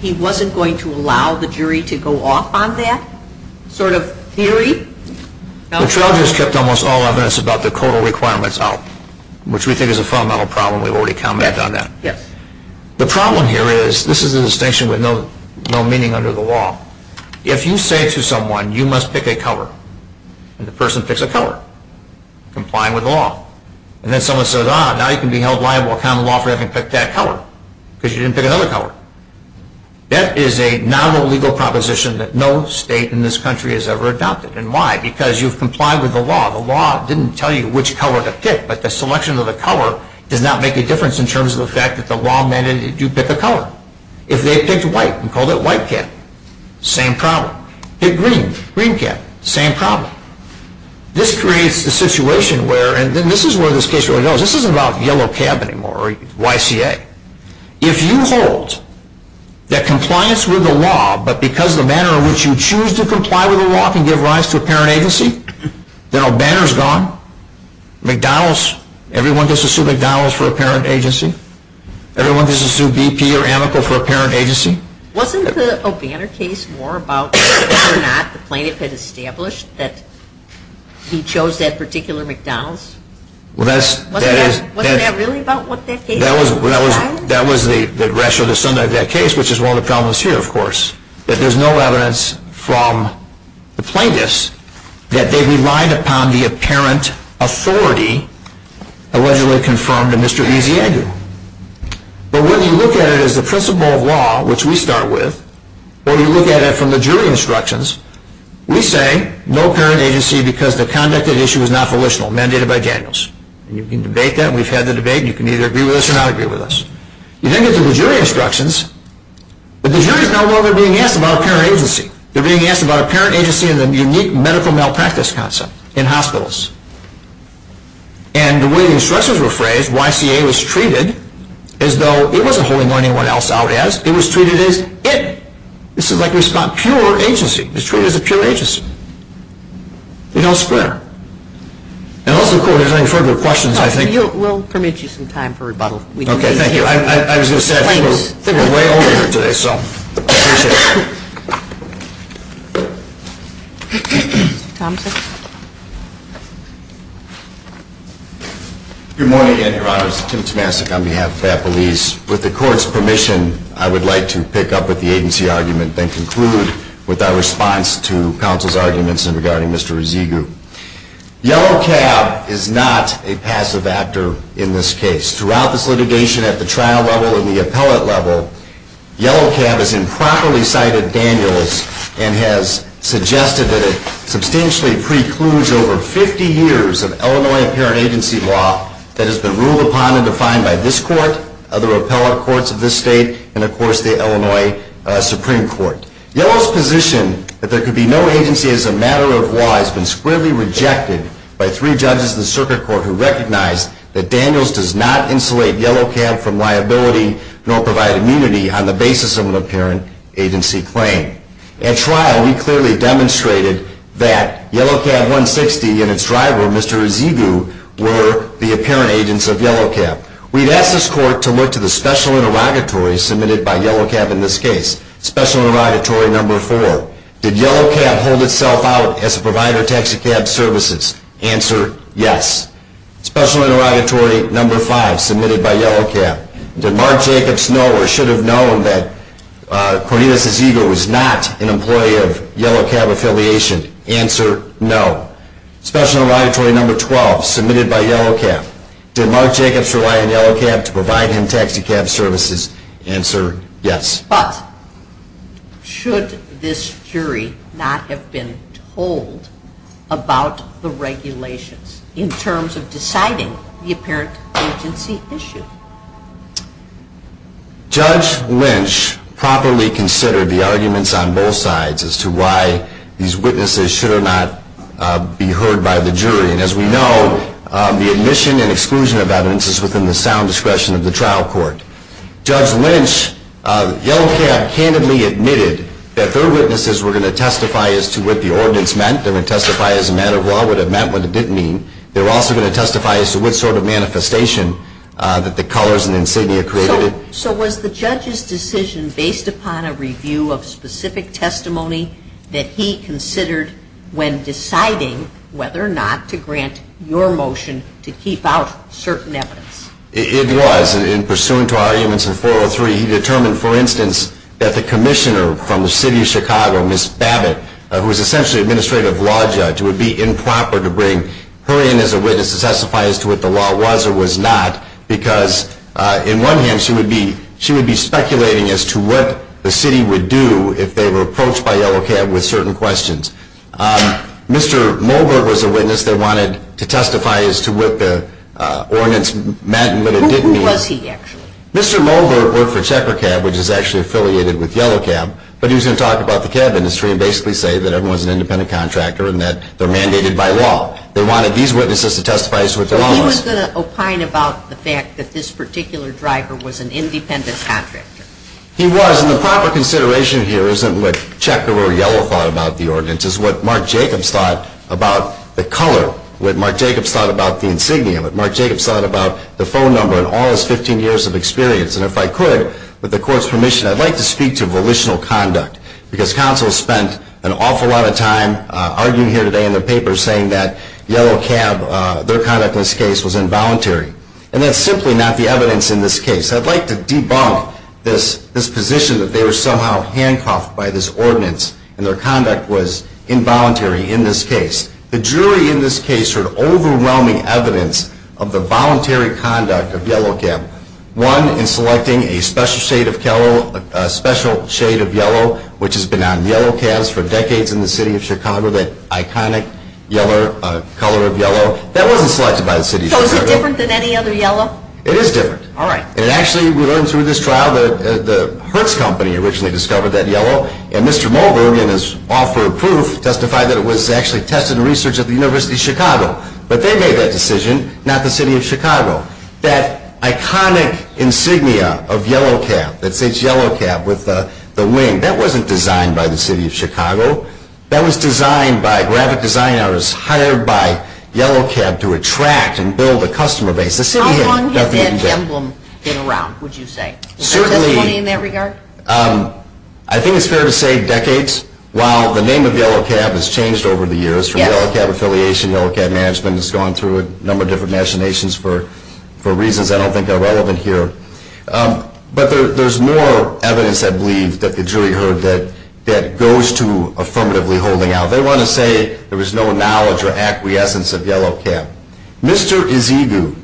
he wasn't going to allow the jury to go off on that sort of theory? The charge has kept almost all evidence about the codal requirements out, which we think is a fundamental problem. We've already commented on that. The problem here is this is a distinction with no meaning under the law. If you say to someone, you must pick a color, and the person picks a color complying with the law, and then someone says, ah, now you can be held liable for having picked that color because you didn't pick another color. That is a non-illegal proposition that no state in this country has ever adopted. And why? Because you've complied with the law. The law didn't tell you which color to pick, but the selection of the color did not make a difference in terms of the fact that the law mandated that you pick a color. If they picked white and called it white cat, same problem. Pick green, green cat, same problem. This creates a situation where, and this is where the statute goes, this isn't about yellow cat anymore or YCA. If you hold that compliance with the law, but because the manner in which you choose to comply with the law can give rise to a parent agency, then O'Banner is gone. McDonald's, everyone just assumed McDonald's for a parent agency. Everyone just assumed BP or Amical for a parent agency. Wasn't the O'Banner case more about whether or not the plaintiff had established that he chose that particular McDonald's? Wasn't that really about what they stated? That was the rest of the stunt of that case, which is one of the problems here, of course, that there's no evidence from the plaintiffs that they relied upon the apparent authority allegedly confirmed in Mr. E.Z. Edgar. But when you look at it as the principle of law, which we start with, when you look at it from the jury instructions, we say no parent agency because the conduct of the issue was not volitional, mandated by Daniels. You can debate that. We've had the debate. You can either agree with us or not agree with us. You think this is the jury instructions, but the jury is no longer being asked about a parent agency. They're being asked about a parent agency in a unique medical malpractice council, in hospitals. And the way the instructions were phrased, YCA was treated as though it wasn't holding anyone else out as. It was treated as if. This is like we stopped pure agency. This truly is a pure agency. We're not square. I don't think we have any further questions, I think. We'll permit you some time for rebuttal. Okay, thank you. I was going to say, I think we're way over here today, so. Good morning, Your Honor. This is Tim Tomasik on behalf of Apple East. With the court's permission, I would like to pick up at the agency argument and conclude with our response to counsel's arguments regarding Mr. Ezegu. Yellow Cab is not a passive actor in this case. Throughout this litigation at the trial level and the appellate level, Yellow Cab has improperly cited Daniels and has suggested that it potentially precludes over 50 years of Illinois parent agency law that has been ruled upon and defined by this court, other appellate courts of this state, and, of course, the Illinois Supreme Court. Yellow's position that there could be no agency as a matter of law has been squarely rejected by three judges in the circuit court who recognize that Daniels does not insulate Yellow Cab from liability nor provide immunity on the basis of an apparent agency claim. At trial, we clearly demonstrated that Yellow Cab 160 and its driver, Mr. Ezegu, were the apparent agents of Yellow Cab. We've asked this court to look to the special interrogatory submitted by Yellow Cab in this case. Special interrogatory number 4, did Yellow Cab hold itself out as a provider of taxicab services? Answer, yes. Special interrogatory number 5, submitted by Yellow Cab, did Mark Jacobs know or should have known that Correa Ezegu was not an employee of Yellow Cab affiliation? Answer, no. Special interrogatory number 12, submitted by Yellow Cab, did Mark Jacobs rely on Yellow Cab to provide him taxicab services? Answer, yes. But should this jury not have been told about the regulations in terms of deciding the apparent agency issue? Judge Lynch properly considered the arguments on both sides as to why these witnesses should not be heard by the jury. As we know, the admission and exclusion of evidence is within the sound discretion of the trial court. Judge Lynch, Yellow Cab candidly admitted that their witnesses were going to testify as to what the ordinance meant. They were going to testify as a matter of what it meant and what it didn't mean. They were also going to testify as to what sort of manifestation that the colors and insignia created. So was the judge's decision based upon a review of specific testimony that he considered when deciding whether or not to grant your motion to keep out certain evidence? It was. In pursuant to our arguments in 403, he determined, for instance, that the commissioner from the city of Chicago, Ms. Babbitt, who is essentially an administrative law judge, would be improper to bring her in as a witness to testify as to what the law was or was not because, in one hand, she would be speculating as to what the city would do if they were approached by Yellow Cab with certain questions. Mr. Mulberg was a witness they wanted to testify as to what the ordinance meant and what it didn't mean. Who was he, actually? Mr. Mulberg worked for Checker Cab, which is actually affiliated with Yellow Cab, but he was going to talk about the cab industry and basically say that everyone's an independent contractor and that they're mandated by law. They wanted these witnesses to testify as to what the law was. But he was going to opine about the fact that this particular driver was an independent contractor. He was, and the proper consideration here isn't with Checker or Yellow thought about the ordinance. It's what Mark Jacobs thought about the color, what Mark Jacobs thought about the insignia, what Mark Jacobs thought about the phone number and all his 15 years of experience. And if I could, with the court's permission, I'd like to speak to volitional conduct because counsel spent an awful lot of time arguing here today in the paper saying that Yellow Cab, their conduct in this case, was involuntary. And that's simply not the evidence in this case. I'd like to debunk this position that they were somehow handcuffed by this ordinance and their conduct was involuntary in this case. The jury in this case heard overwhelming evidence of the voluntary conduct of Yellow Cab. One, in selecting a special shade of yellow, which has been on Yellow Cabs for decades in the city of Chicago, that iconic color of yellow. That wasn't selected by the city. So is it different than any other yellow? It is different. All right. And actually, we learned through this trial, the Hertz company originally discovered that yellow, and Mr. Mulgrew, again, as author of proof, testified that it was actually tested in research at the University of Chicago. But they made that decision, not the city of Chicago. That iconic insignia of Yellow Cab, that says Yellow Cab with the ring, that wasn't designed by the city of Chicago. That was designed by graphic design artists hired by Yellow Cab to attract and build a customer base. How long has that emblem been around, would you say? Certainly, I think it's fair to say decades. While the name of Yellow Cab has changed over the years, from Yellow Cab Affiliation, Yellow Cab Management, it's gone through a number of different nominations for reasons I don't think are relevant here. But there's more evidence, I believe, that the jury heard that goes to affirmatively holding out. They want to say there was no knowledge or acquiescence of Yellow Cab. Mr. Ezegu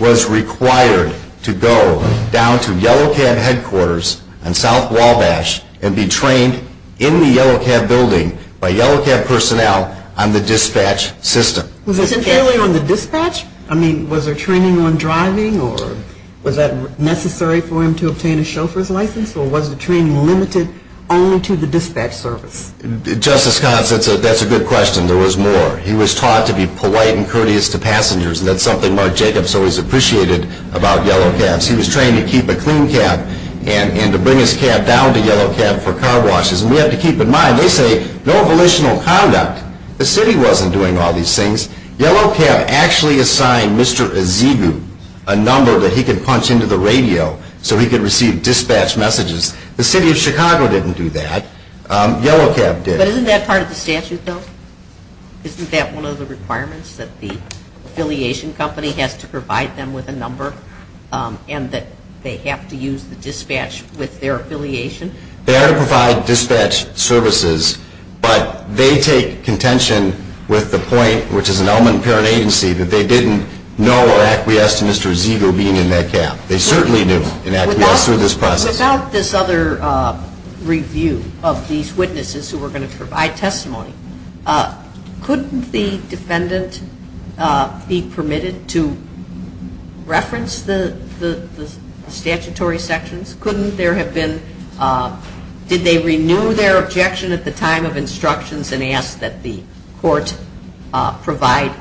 was required to go down to Yellow Cab headquarters in South Wabash and be trained in the Yellow Cab building by Yellow Cab personnel on the dispatch system. Sincerely on the dispatch? I mean, was there training on driving, or was that necessary for him to obtain a chauffeur's license, or was the training limited only to the dispatch service? Justice Codd, that's a good question. There was more. He was taught to be polite and courteous to passengers, and that's something Marc Jacobs always appreciated about Yellow Cab. He was trained to keep a clean cab and to bring his cab down to Yellow Cab for car washes. And we have to keep in mind, they say no volitional conduct. The city wasn't doing all these things. Yellow Cab actually assigned Mr. Ezegu a number that he could punch into the radio so he could receive dispatch messages. The city of Chicago didn't do that. Yellow Cab did. But isn't that part of the statute, though? Isn't that one of the requirements, that the affiliation company has to provide them with a number and that they have to use the dispatch with their affiliation? They had to provide dispatch services, but they take contention with the point, which is an element of parent agency, that they didn't know or acquiesced to Mr. Ezegu being in that cab. They certainly knew and acquiesced through this process. Without this other review of these witnesses who were going to provide testimony, couldn't the defendant be permitted to reference the statutory sections? Couldn't there have been... Did they renew their objection at the time of instructions and ask that the court provide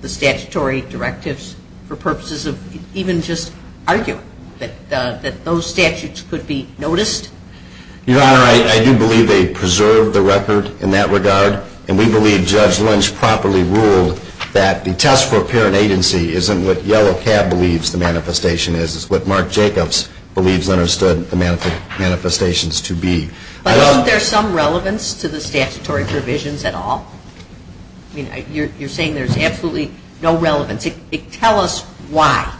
the statutory directives for purposes of even just arguing that those statutes could be noticed? Your Honor, I do believe they preserved the record in that regard, and we believe Judge Lynch properly ruled that the test for parent agency isn't what Yellow Cab believes the manifestation is. It's what Mark Jacobs believes the manifestations to be. But isn't there some relevance to the statutory provisions at all? You're saying there's absolutely no relevance. Tell us why.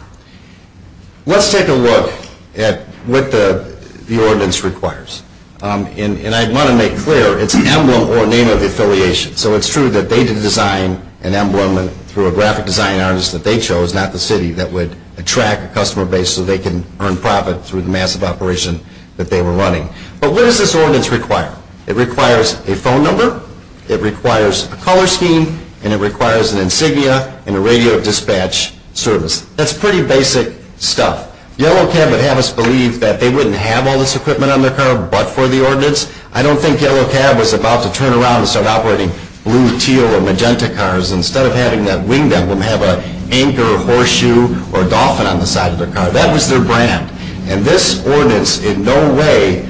Let's take a look at what the ordinance requires. And I want to make clear, it's an emblem or name of affiliation. So it's true that they did design an emblem through a graphic design artist that they chose, not the city, that would attract the customer base so they can earn profit through the massive operation that they were running. But what does this ordinance require? It requires a phone number, it requires a color scheme, and it requires an insignia and a radio dispatch service. That's pretty basic stuff. Yellow Cab would have us believe that they wouldn't have all this equipment on their car but for the ordinance. I don't think Yellow Cab was about to turn around and start operating blue, teal, or magenta cars instead of having that winged emblem have an anchor or horseshoe or dolphin on the side of the car. That was their brand. And this ordinance in no way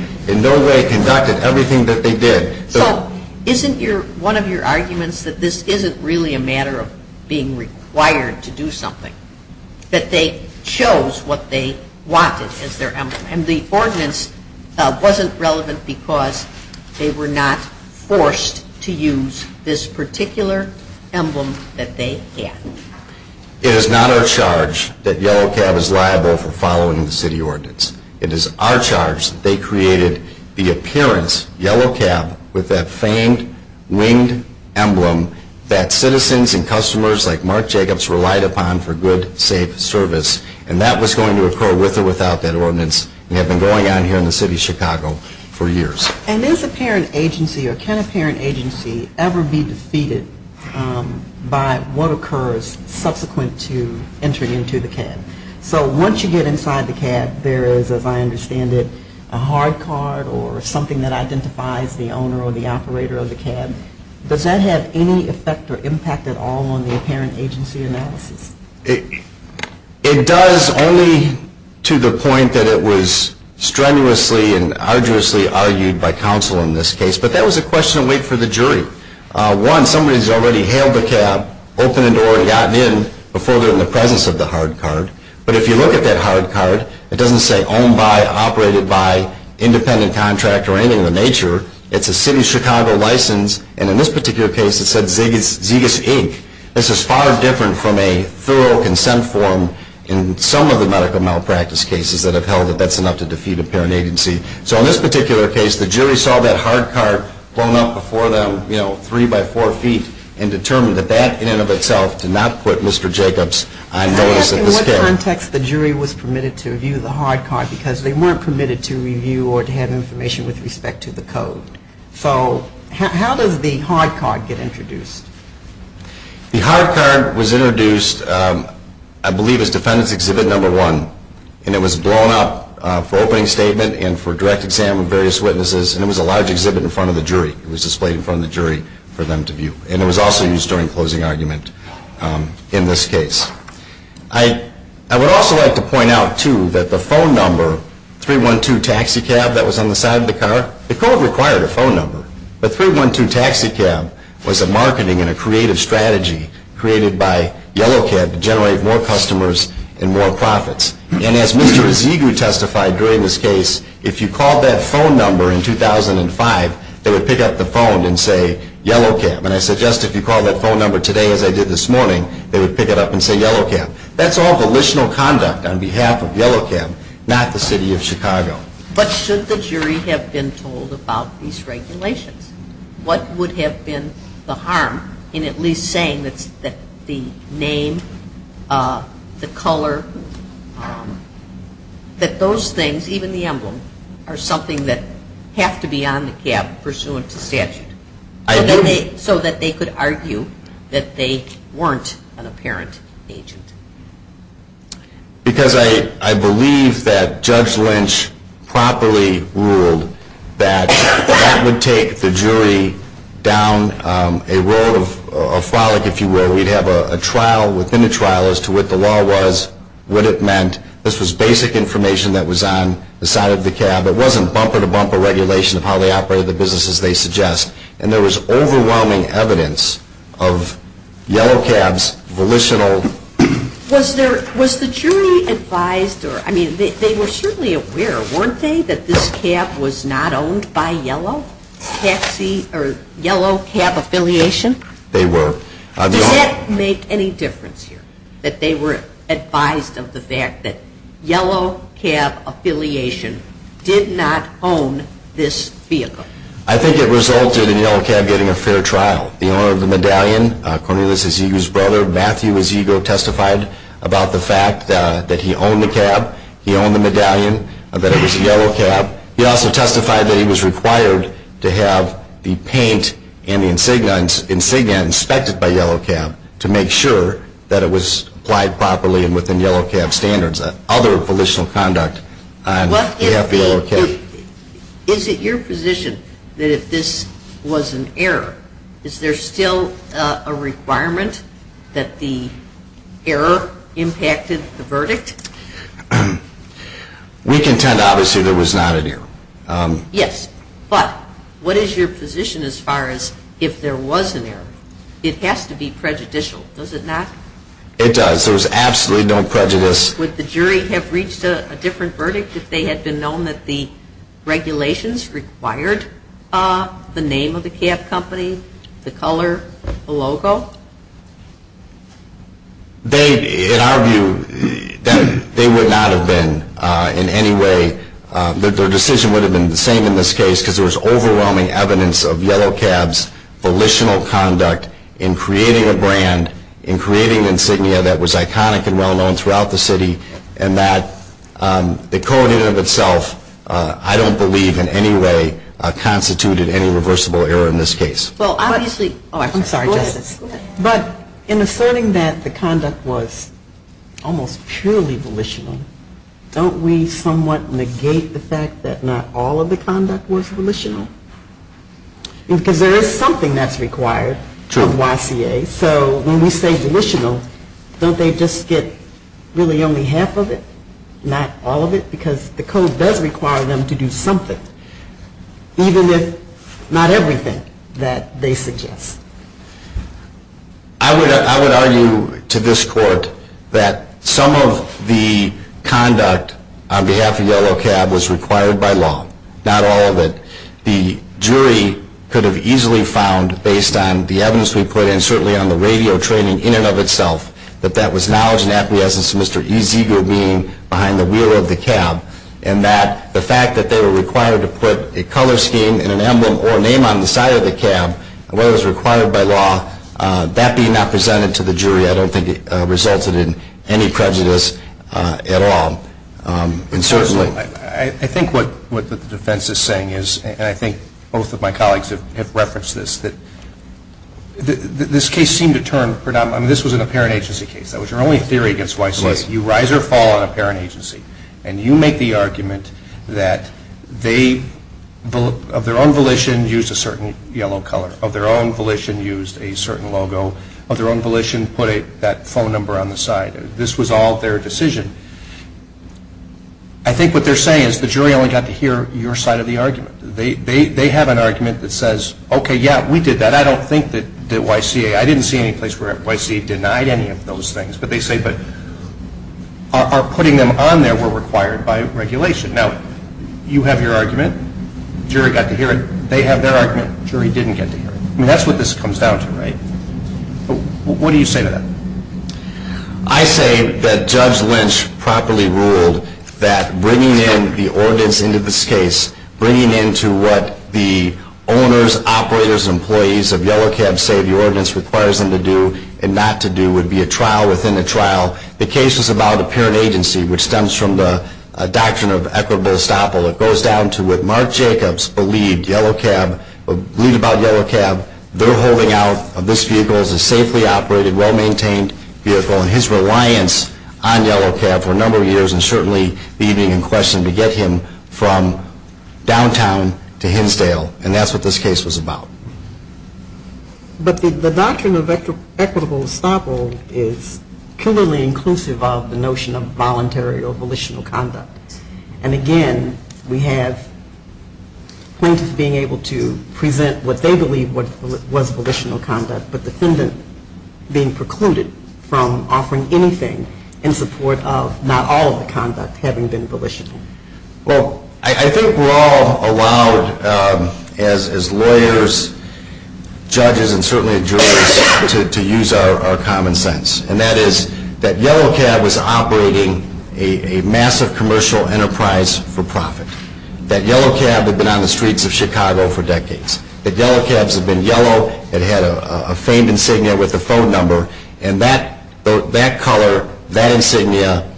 conducted everything that they did. So isn't one of your arguments that this isn't really a matter of being required to do something? That they chose what they wanted as their emblem. And the ordinance wasn't relevant because they were not forced to use this particular emblem that they had. It is not our charge that Yellow Cab is liable for following the city ordinance. It is our charge that they created the appearance, Yellow Cab, with that famed winged emblem that citizens and customers like Mark Jacobs relied upon for good, safe service. And that was going to occur with or without that ordinance. It had been going on here in the city of Chicago for years. And does a parent agency or can a parent agency ever be defeated by what occurs subsequent to entering into the cab? So once you get inside the cab, there is, as I understand it, a hard card or something that identifies the owner or the operator of the cab. Does that have any effect or impact at all on the apparent agency analysis? It does only to the point that it was strenuously and arduously argued by counsel in this case. But that was a question of wait for the jury. One, somebody has already hailed the cab, opened the door and gotten in before they were in the presence of the hard card. But if you look at that hard card, it doesn't say owned by, operated by, independent contractor or anything of the nature. It's a city of Chicago license. And in this particular case, it said Zegus, Inc. This is far different from a thorough consent form in some of the medical malpractice cases that I've held that that's enough to defeat a parent agency. So in this particular case, the jury saw that hard card flown up before them, you know, three by four feet, and determined that that in and of itself did not put Mr. Jacobs on notice of the scare. I'm asking what context the jury was permitted to review the hard card because they weren't permitted to review or to have information with respect to the code. So how does the hard card get introduced? The hard card was introduced, I believe, as defendant's exhibit number one. And it was blown up for opening statement and for direct exam of various witnesses. And it was a large exhibit in front of the jury. It was displayed in front of the jury for them to view. And it was also used during closing argument in this case. I would also like to point out, too, that the phone number, 312 Taxi Cab, that was on the side of the car, the court required a phone number. But 312 Taxi Cab was a marketing and a creative strategy created by Yellow Cab to generate more customers and more profits. And as Mr. Zegu testified during this case, if you called that phone number in 2005, they would pick up the phone and say, Yellow Cab. And I suggest if you called that phone number today as I did this morning, they would pick it up and say, Yellow Cab. That's all volitional conduct on behalf of Yellow Cab, not the city of Chicago. What should the jury have been told about these regulations? What would have been the harm in at least saying that the name, the color, that those things, even the emblem, are something that have to be on the cab pursuant to statute, so that they could argue that they weren't an apparent agent? Because I believe that Judge Lynch properly ruled that that would take the jury down a road of frolic, if you will. We'd have a trial within a trial as to what the law was, what it meant. This was basic information that was on the side of the cab. It wasn't bumper-to-bumper regulation of how they operated the business as they suggest. And there was overwhelming evidence of Yellow Cab's volitional... Was the jury advised or, I mean, they were certainly aware, weren't they, that this cab was not owned by Yellow Cab Affiliation? They were. Did that make any difference here, that they were advised of the fact that Yellow Cab Affiliation did not own this vehicle? I think it resulted in Yellow Cab getting a fair trial. The owner of the medallion, Cornelius Aziga's brother, Matthew Aziga, testified about the fact that he owned the cab, he owned the medallion, that it was Yellow Cab. He also testified that he was required to have the paint and the insignia inspected by Yellow Cab to make sure that it was applied properly Is it your position that if this was an error, is there still a requirement that the error impacted the verdict? We contend, obviously, there was not an error. Yes, but what is your position as far as if there was an error? It has to be prejudicial, does it not? It does. There was absolutely no prejudice. Would the jury have reached a different verdict if they had been known that the regulations required the name of the cab company, the color, the logo? In our view, they would not have been in any way. Their decision would have been the same in this case because there was overwhelming evidence of Yellow Cab's volitional conduct in creating a brand, in creating an insignia that was iconic and well-known throughout the city, and that the coding of itself, I don't believe in any way, constituted any reversible error in this case. I'm sorry, Justice. But in asserting that the conduct was almost purely volitional, don't we somewhat negate the fact that not all of the conduct was volitional? Because there is something that's required from YCA. So when we say volitional, don't they just get really only half of it, not all of it? Because the code does require them to do something, even with not everything that they suggest. I would argue to this court that some of the conduct on behalf of Yellow Cab was required by law, not all of it. The jury could have easily found, based on the evidence we put, and certainly on the radio training in and of itself, that that was knowledge and affidavits to Mr. E. Zeger being behind the wheel of the cab, and that the fact that they were required to put a color scheme and an emblem or a name on the side of the cab, whether it was required by law, that being not presented to the jury, I don't think it resulted in any prejudice at all. I think what the defense is saying is, and I think both of my colleagues have referenced this, that this case seemed to turn predominant. I mean, this was an apparent agency case. That was your only theory against YCA. You rise or fall on apparent agency, and you make the argument that they, of their own volition, used a certain yellow color. Of their own volition, used a certain logo. Of their own volition, put that phone number on the side. This was all their decision. I think what they're saying is the jury only got to hear your side of the argument. They have an argument that says, okay, yeah, we did that. I don't think that YCA, I didn't see any place where YCA denied any of those things. But they say, but putting them on there were required by regulation. Now, you have your argument. The jury got to hear it. They have their argument. The jury didn't get to hear it. I mean, that's what this comes down to, right? What do you say to that? I say that Judge Lynch properly ruled that bringing in the ordinance into this case, bringing into what the owners, operators, employees of Yellow Cab say the ordinance requires them to do and not to do would be a trial within a trial. The case is about apparent agency, which stems from the doctrine of equitable estoppel. It goes down to what Marc Jacobs believed, Yellow Cab, their holding out of this vehicle as a safely operated, well-maintained vehicle, and his reliance on Yellow Cab for a number of years and certainly being in question to get him from downtown to Hinsdale. And that's what this case was about. But the doctrine of equitable estoppel is clearly inclusive of the notion of voluntary or volitional conduct. And, again, we have plaintiffs being able to present what they believe was volitional conduct but defendants being precluded from offering anything in support of not all of the conduct having been volitional. Well, I think we're all allowed, as lawyers, judges, and certainly jurors, to use our common sense. And that is that Yellow Cab is operating a massive commercial enterprise for profit. That Yellow Cab had been on the streets of Chicago for decades. If Yellow Cab had been yellow, it had a famed insignia with a phone number, and that color, that insignia,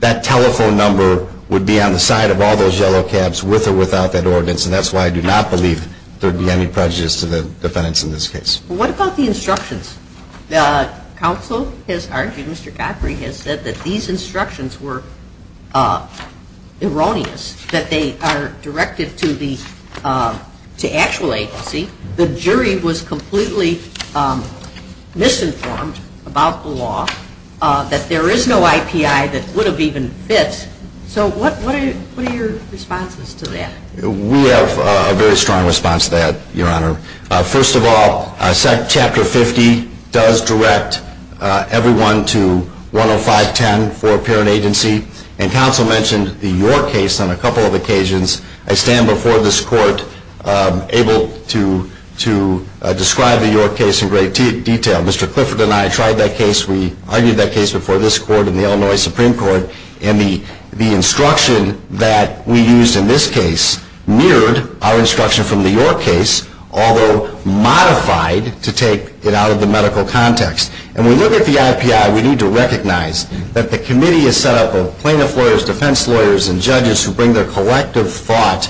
that telephone number would be on the side of all those Yellow Cabs with or without that ordinance. And that's why I do not believe there would be any prejudice to the defendants in this case. What about the instructions? The counsel has argued, Mr. Godfrey has said, that these instructions were erroneous, that they are directed to the actual agency. The jury was completely misinformed about the law, that there is no IPI that would have even fit. So what are your responses to that? We have a very strong response to that, Your Honor. First of all, Chapter 50 does direct everyone to 10510 for parent agency. And counsel mentioned the York case on a couple of occasions. I stand before this court able to describe the York case in great detail. Mr. Clifford and I tried that case. We argued that case before this court and the Illinois Supreme Court. And the instruction that we used in this case mirrored our instruction from the York case, although modified to take it out of the medical context. And when we look at the IPI, we need to recognize that the committee is set up of plaintiff lawyers, defense lawyers, and judges who bring their collective thoughts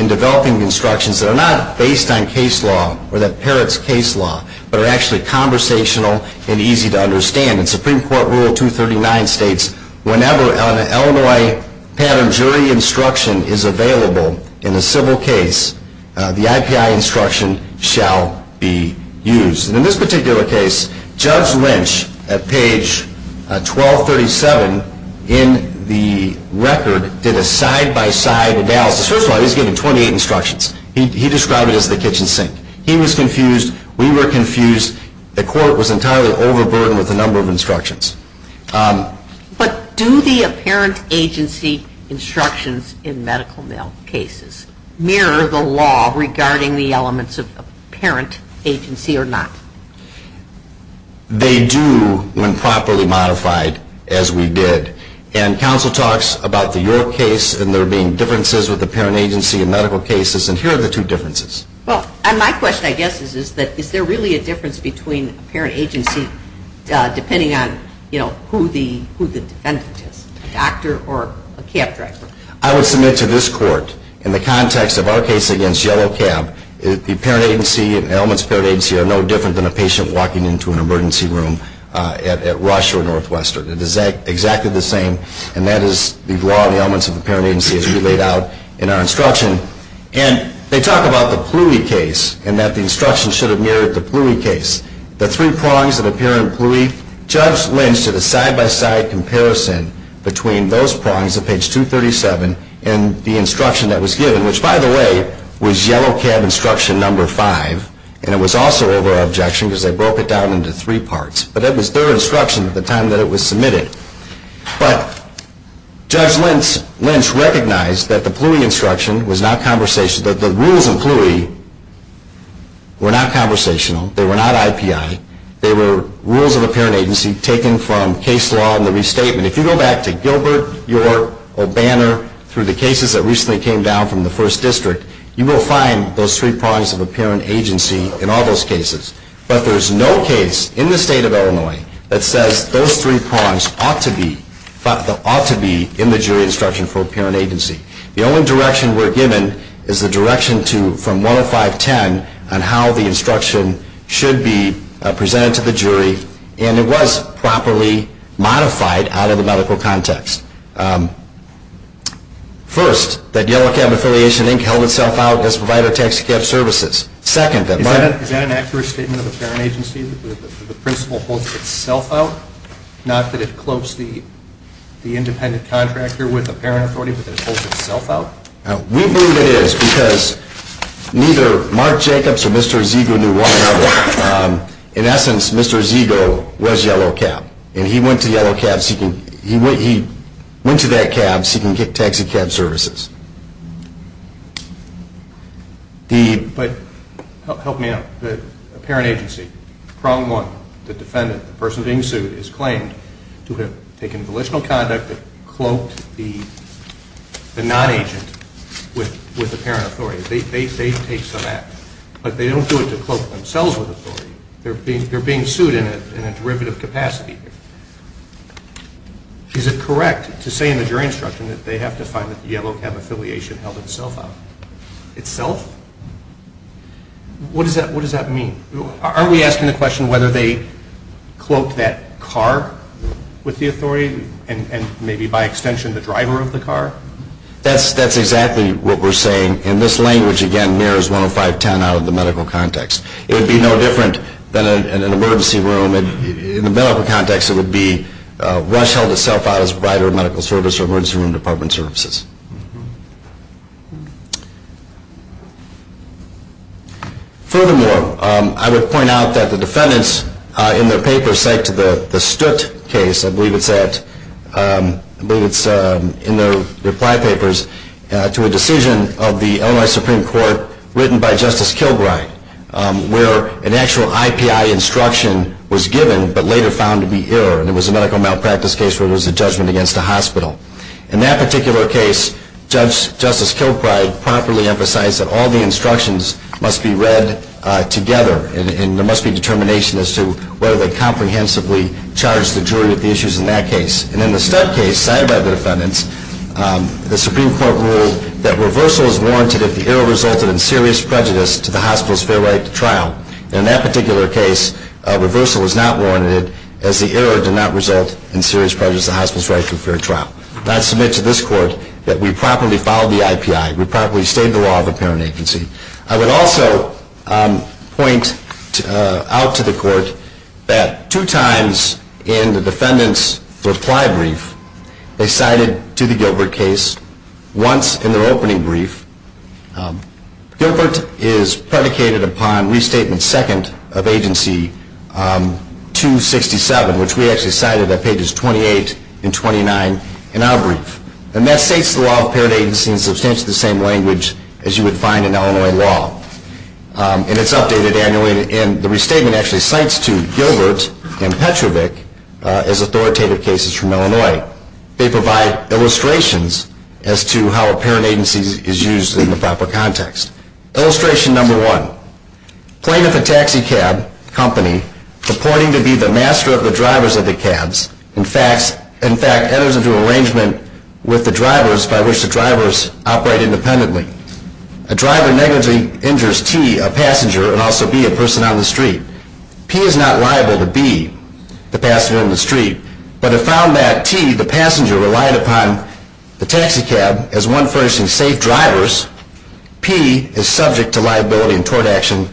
in developing the instructions that are not based on case law or that parent's case law, but are actually conversational and easy to understand. And the Supreme Court Rule 239 states, whenever an Illinois parent jury instruction is available in a civil case, the IPI instruction shall be used. And in this particular case, Judge Lynch at page 1237 in the record did a side-by-side analysis. First of all, he was giving 28 instructions. He described it as the kitchen sink. He was confused. We were confused. The court was entirely overburdened with the number of instructions. But do the apparent agency instructions in medical male cases mirror the law regarding the elements of the parent agency or not? They do when properly modified, as we did. And counsel talks about the York case and there being differences with the parent agency in medical cases. And here are the two differences. Well, my question, I guess, is this. Is there really a difference between the parent agency, depending on who the defendant is, a doctor or a cab driver? I would submit to this court, in the context of our case against yellow cab, the parent agency and elements of the parent agency are no different than a patient walking into an emergency room at Rush or Northwestern. It is exactly the same. And that is the law and elements of the parent agency as you laid out in our instruction. And they talk about the Pluie case and that the instruction should have mirrored the Pluie case. The three prongs of the parent Pluie. Judge Lynch did a side-by-side comparison between those prongs of page 237 and the instruction that was given, which, by the way, was yellow cab instruction number 5. And it was also over-objection because they broke it down into three parts. But that was their instruction at the time that it was submitted. But Judge Lynch recognized that the rules in Pluie were not conversational. They were not IPI. They were rules of the parent agency taken from case law and the restatement. If you go back to Gilbert, York, or Banner, through the cases that recently came down from the First District, you will find those three prongs of the parent agency in all those cases. But there is no case in the state of Illinois that says those three prongs ought to be in the jury instruction for a parent agency. The only direction we're given is the direction from 1 to 510 on how the instruction should be presented to the jury. And it was properly modified out of the medical context. First, that yellow cab affiliation, Inc., held itself out as a provider of taxicab services. Is that an accurate statement of the parent agency, that the principal holds itself out, not that it cloaks the independent contractor with the parent authority, but that it holds itself out? We believe it is because neither Mark Jacobs or Mr. Ezego knew why. In essence, Mr. Ezego was yellow cab. And he went to that cab seeking taxicab services. But help me out. The parent agency, prong one, the defendant, the person being sued, is claimed to have taken volitional conduct, cloaked the non-agent with the parent authority. They say they took some action. But they don't do it to cloak themselves with authority. They're being sued in a derivative capacity. Is it correct to say in the jury instruction that they have to fight with the yellow cab affiliation? The parent affiliation held itself out. Itself? What does that mean? Are we asking the question whether they cloaked that car with the authority and maybe by extension the driver of the car? That's exactly what we're saying. And this language, again, mirrors 10510 out of the medical context. It would be no different than an emergency room. In the medical context, it would be, Rush held itself out as a provider of medical service or emergency room department services. Furthermore, I would point out that the defendants in their papers cite to the Stutt case, I believe it's in their flag papers, to a decision of the Illinois Supreme Court written by Justice Kilbride where an actual IPI instruction was given but later found to be error. It was a medical malpractice case where it was a judgment against a hospital. In that particular case, Justice Kilbride promptly emphasized that all the instructions must be read together and there must be determination as to whether they comprehensively charged the jury with the issues in that case. And in the Stutt case, cited by the defendants, the Supreme Court ruled that reversal is warranted if the error resulted in serious prejudice to the hospital's fair right to trial. In that particular case, reversal was not warranted as the error did not result in serious prejudice to the hospital's right to a fair trial. And I submit to this Court that we properly followed the IPI. We properly stayed the law of the parent agency. I would also point out to the Court that two times in the defendants' reply brief, they cited to the Gilbert case once in their opening brief. Gilbert is predicated upon Restatement II of Agency 267, which we actually cited on pages 28 and 29 in our brief. And that states the law of the parent agency in substantially the same language as you would find in Illinois law. And it's updated annually. And the restatement actually cites to Gilbert and Petrovic as authoritative cases from Illinois. They provide illustrations as to how a parent agency is used in the proper context. Illustration number one. Claim that the taxi cab company, supporting to be the master of the drivers of the cabs, in fact, enters into an arrangement with the drivers by which the drivers operate independently. A driver negligently injures T, a passenger, and also B, a person on the street. T is not liable to B, the passenger on the street. But if found that T, the passenger, relied upon the taxi cab as one person to save drivers, P is subject to liability in court action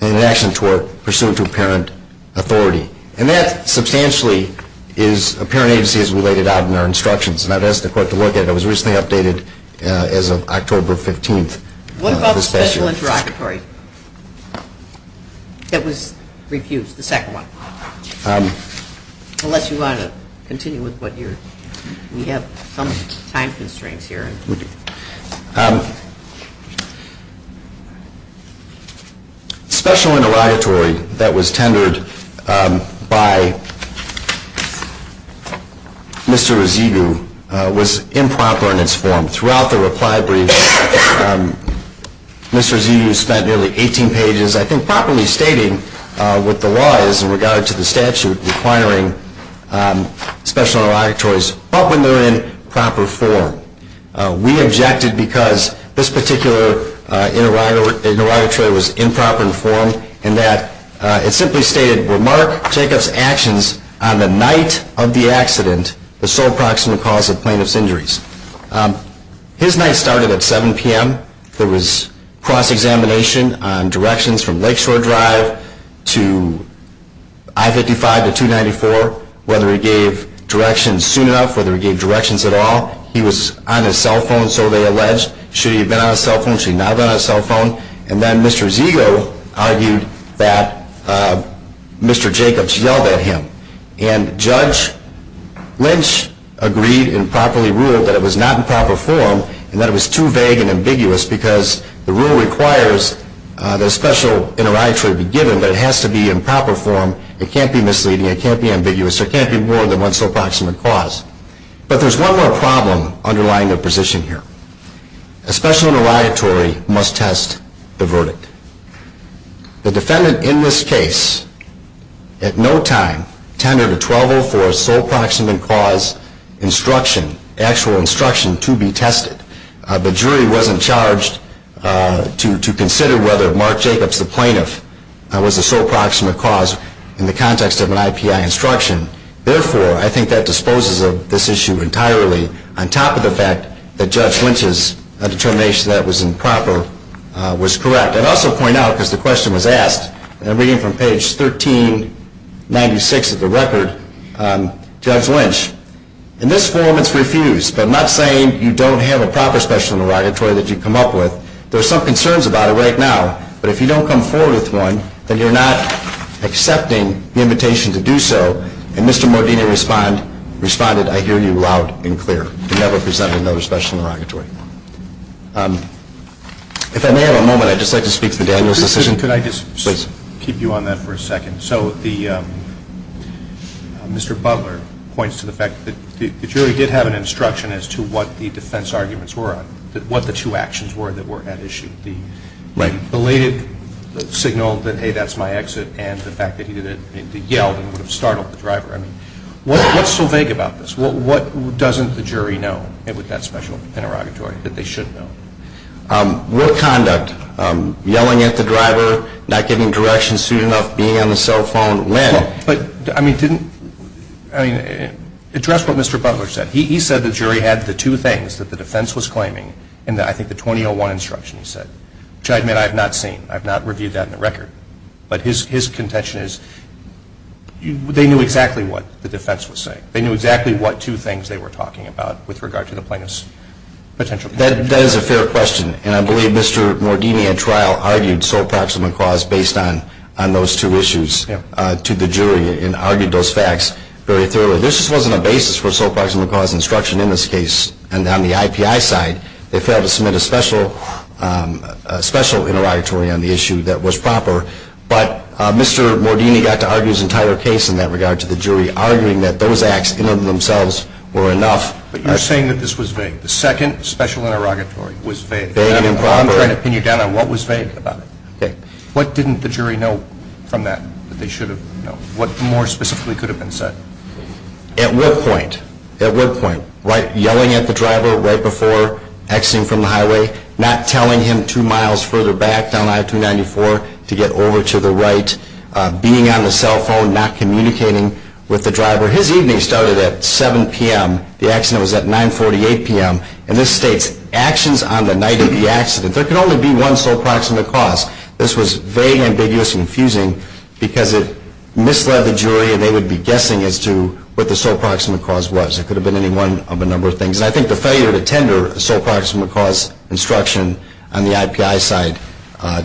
in an action court pursuant to parent authority. And that substantially is a parent agency as related out in our instructions. I was not asked the court to look at it. It was recently updated as of October 15th. What about the special interrogatory that was refused, the second one? Unless you want to continue with what you're... We have some time constraints here. Special interrogatory that was tendered by Mr. Azizu was improper in its form. Throughout the reply brief, Mr. Azizu spent nearly 18 pages, I think, properly stating what the law is in regard to the statute, requiring special interrogatories, but when they're in proper form. We objected because this particular interrogatory was improper in form, and that it simply stated, Will Mark take us actions on the night of the accident, the sole proximal cause of plaintiff's injuries? His night started at 7 p.m. There was cross-examination on directions from Lakeshore Drive to I-55 to 294, whether he gave directions soon enough, whether he gave directions at all. He was on his cell phone, so they alleged. She had been on her cell phone. She had not been on her cell phone. And then Mr. Azizu argued that Mr. Jacobs yelled at him. And Judge Lynch agreed and properly ruled that it was not in proper form and that it was too vague and ambiguous because the rule requires that a special interrogatory be given, but it has to be in proper form. It can't be misleading. It can't be ambiguous. It can't be more than one sole proximate cause. But there's one more problem underlying their position here. A special interrogatory must test the verdict. The defendant in this case, at no time, tended to trouble for a sole proximate cause instruction, actual instruction to be tested. The jury wasn't charged to consider whether Mark Jacobs, the plaintiff, was a sole proximate cause in the context of an IPI instruction. Therefore, I think that disposes of this issue entirely, on top of the fact that Judge Lynch's determination that it was improper was correct. I'd also point out, because the question was asked, and I'm reading from page 1396 of the record, Judge Lynch, in this form it's refused. I'm not saying you don't have a proper special interrogatory that you've come up with. There are some concerns about it right now, but if you don't come forward with one, then you're not accepting the invitation to do so. And Mr. Mordini responded, I hear you loud and clear. He never presented another special interrogatory. If I may have a moment, I'd just like to speak to the Daniels decision. Could I just keep you on that for a second? So Mr. Butler points to the fact that the jury did have an instruction as to what the defense arguments were, what the two actions were that were at issue. The belated signal that, hey, that's my exit, and the fact that he yelled and would have startled the driver. I mean, what's so vague about this? What doesn't the jury know with that special interrogatory that they should know? Real conduct, yelling at the driver, not giving direction, suiting up, being on the cell phone, when? I mean, address what Mr. Butler said. He said the jury had the two things that the defense was claiming, and I think the 2001 instruction said, which I admit I have not seen. I have not reviewed that in the record. But his contention is they knew exactly what the defense was saying. They knew exactly what two things they were talking about with regard to the plaintiff's potential. That is a fair question, and I believe Mr. Mordini in trial argued sole proximate cause based on those two issues to the jury and argued those facts very thoroughly. This wasn't a basis for sole proximate cause instruction in this case, and on the IPI side they failed to submit a special interrogatory on the issue that was proper. But Mr. Mordini got to argue his entire case in that regard to the jury, arguing that those acts in and of themselves were enough. But you're saying that this was vague. The second special interrogatory was vague. I'm trying to pin your doubt on what was vague about it. What didn't the jury know from that that they should have known? What more specifically could have been said? At what point? At what point? Like yelling at the driver right before exiting from the highway, not telling him two miles further back down I-394 to get over to the right, being on the cell phone, not communicating with the driver. His evening started at 7 p.m. The action was at 9.48 p.m. And this states, actions on the night of the accident. There can only be one sole proximate cause. This was very ambiguous and confusing because it misled the jury and they would be guessing as to what the sole proximate cause was. It could have been any one of a number of things. And I think the failure to tender sole proximate cause instruction on the IPI side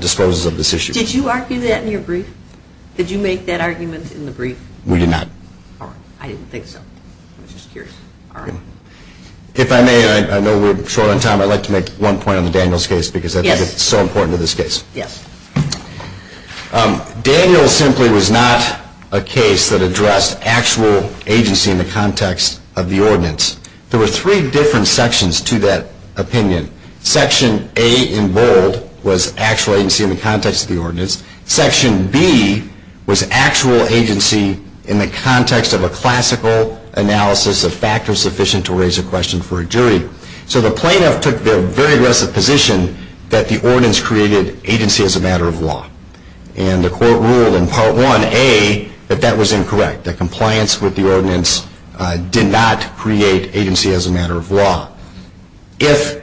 disposes of this issue. Did you argue that in your brief? Did you make that argument in the brief? We did not. All right. I didn't think so. I was just curious. All right. If I may, and I know we're short on time, I'd like to make one point on Daniel's case because I think it's so important to this case. Yes. Daniel simply was not a case that addressed actual agency in the context of the ordinance. There were three different sections to that opinion. Section A in bold was actual agency in the context of the ordinance. Section B was actual agency in the context of a classical analysis of factors sufficient to raise a question for a jury. So the plaintiff took the very aggressive position that the ordinance created agency as a matter of law. And the court ruled in Part 1A that that was incorrect, that compliance with the ordinance did not create agency as a matter of law. If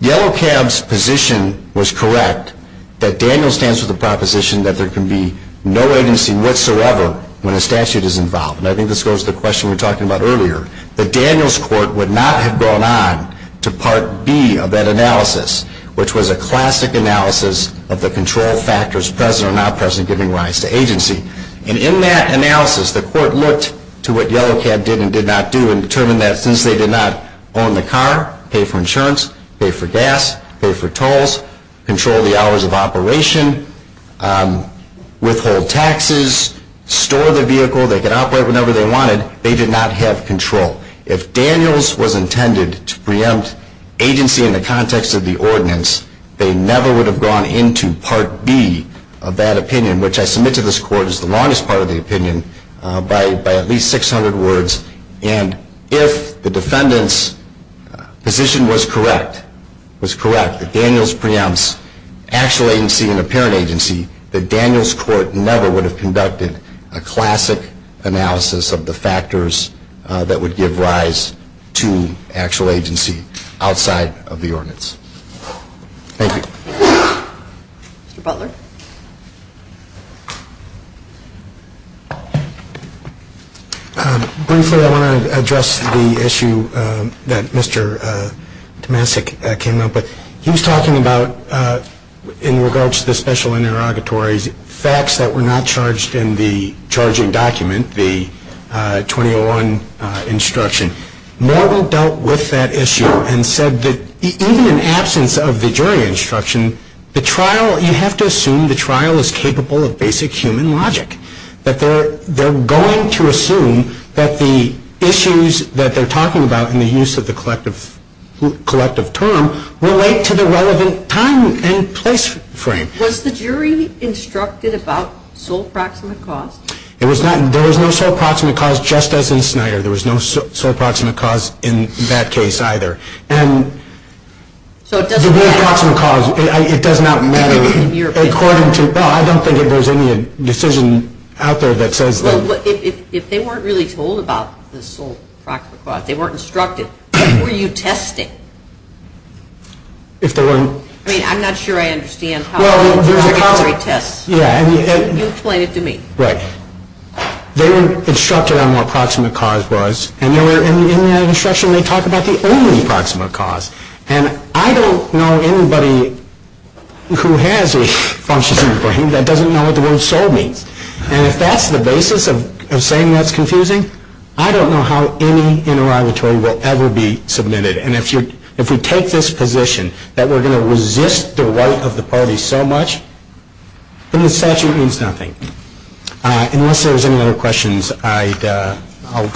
Yellow Cab's position was correct, that Daniel stands with the proposition that there can be no agency whatsoever when a statute is involved, and I think this goes to the question we talked about earlier, that Daniel's court would not have gone on to Part B of that analysis, which was a classic analysis of the control factors present or not present giving rise to agency. And in that analysis, the court looked to what Yellow Cab did and did not do and determined that since they did not own the car, pay for insurance, pay for gas, pay for tolls, control the hours of operation, withhold taxes, store the vehicle, they could operate whenever they wanted, they did not have control. If Daniel's was intended to preempt agency in the context of the ordinance, they never would have gone into Part B of that opinion, which I submit to this court is the longest part of the opinion, by at least 600 words. And if the defendant's position was correct, was correct, that Daniel's preempts actual agency and apparent agency, that Daniel's court never would have conducted a classic analysis of the factors that would give rise to actual agency outside of the ordinance. Thank you. Mr. Butler? Briefly, I want to address the issue that Mr. Tomasik came up with. He was talking about, in regards to the special interrogatories, facts that were not charged in the charging document, the 2001 instruction. Noble dealt with that issue and said that even in absence of the jury instruction, you have to assume the trial is capable of basic human logic, that they're going to assume that the issues that they're talking about in the use of the collective term relate to the relevant time and place frame. Was the jury instructed about sole proximate cause? There was no sole proximate cause just as in Snyder. There was no sole proximate cause in that case either. The sole proximate cause, it does not matter. I don't think there's any decision out there that says that. If they weren't really told about the sole proximate cause, they weren't instructed, what were you testing? I'm not sure I understand how a jury tests. You explain it to me. They were instructed on what proximate cause was, and in that instruction they talk about the only proximate cause, and I don't know anybody who has this function in their brain that doesn't know what the word sole means, and if that's the basis of saying that's confusing, I don't know how any interrogatory will ever be submitted, and if we take this position that we're going to resist the right of the party so much, then the statute means nothing. Unless there's any other questions, I'll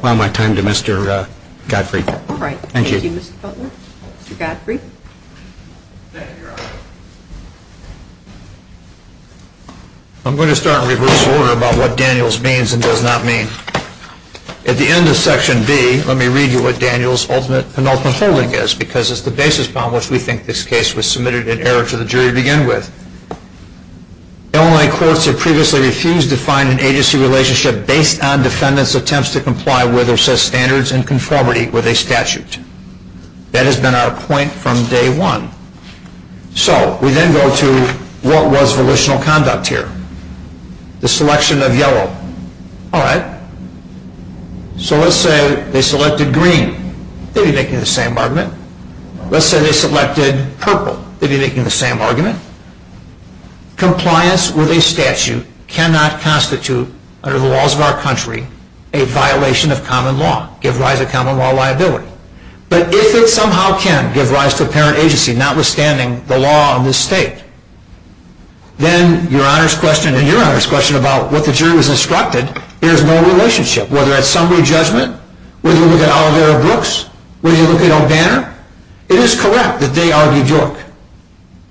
allow my time to Mr. Gottfried. All right. Thank you. Mr. Gottfried. I'm going to start with what Daniels means and does not mean. At the end of Section B, let me read you what Daniels' ultimate and ultimate holding is, because it's the basis on which we think this case was submitted in error for the jury to begin with. The online courts have previously refused to find an agency relationship based on defendants' attempts to comply with or set standards in conformity with a statute. That has been our point from day one. So, we then go to what was the original conduct here. The selection of yellow. All right. So let's say they selected green. They'd be making the same argument. Let's say they selected purple. They'd be making the same argument. Compliance with a statute cannot constitute, under the laws of our country, a violation of common law, give rise to common law liability. But if it somehow can give rise to a parent agency notwithstanding the law in this state, then your Honor's question and your Honor's question about what the jury was instructed, there is no relationship. Whether it's summary judgment, whether you look at Alger or Brooks, whether you look at O'Banner, it is correct that they argued York.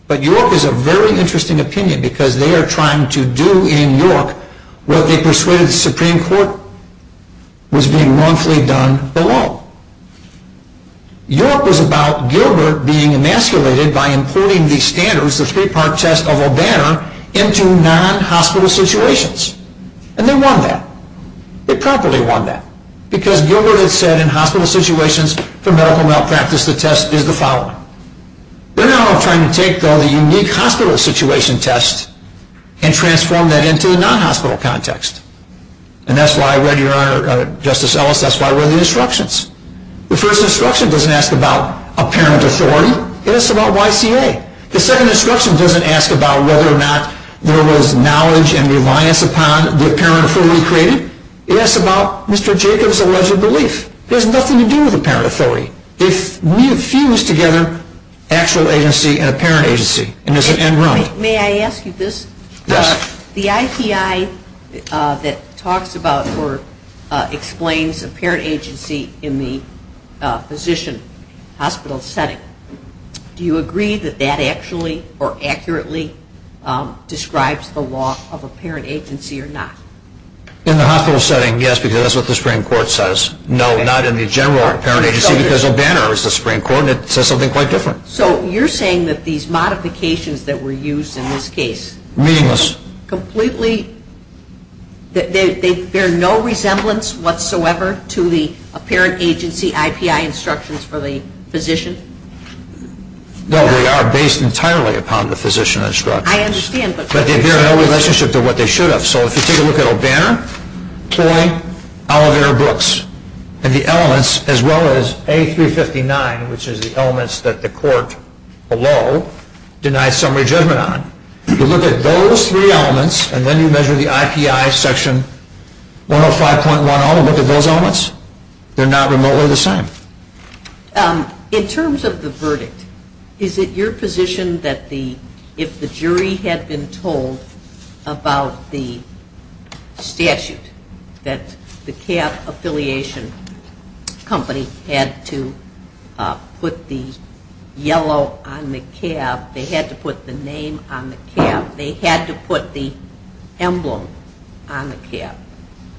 But York is a very interesting opinion because they are trying to do in York what they persuaded the Supreme Court was being wrongfully done below. York was about Gilbert being emasculated by including the standards, the three-part test of O'Banner, into non-hospital situations. And they won that. They probably won that. Because Gilbert has said in hospital situations for medical malpractice the test is the following. They're not all trying to take the unique hospital situation test and transform that into a non-hospital context. And that's why I read your Honor, Justice Ellis, that's why I read the instructions. The first instruction doesn't ask about a parent authority. It asks about YCA. The second instruction doesn't ask about whether or not there was knowledge and reliance upon the parent authority created. It asks about Mr. Jacobs' alleged belief. There's nothing to do with the parent authority. It fuses together actual agency and apparent agency. And there's an end run. May I ask you this? Yes. The IPI that talks about or explains apparent agency in the physician hospital setting, do you agree that that actually or accurately describes the law of apparent agency or not? In the hospital setting, yes, because that's what the Supreme Court says. No, not in the general apparent agency because O'Banner is the Supreme Court and it says something quite different. So you're saying that these modifications that were used in this case completely, they bear no resemblance whatsoever to the apparent agency IPI instructions for the physician? No, they are based entirely upon the physician instructions. I understand. But they bear no relationship to what they should have. So if you take a look at O'Banner, Choi, Oliver, Brooks, and the elements as well as A359, which is the elements that the court below denies summary judgment on, if you look at those three elements and then you measure the IPI section 105.10, look at those elements, they're not remotely the same. In terms of the verdict, is it your position that if the jury had been told about the statute, that the cab affiliation company had to put the yellow on the cab, they had to put the name on the cab, they had to put the emblem on the cab,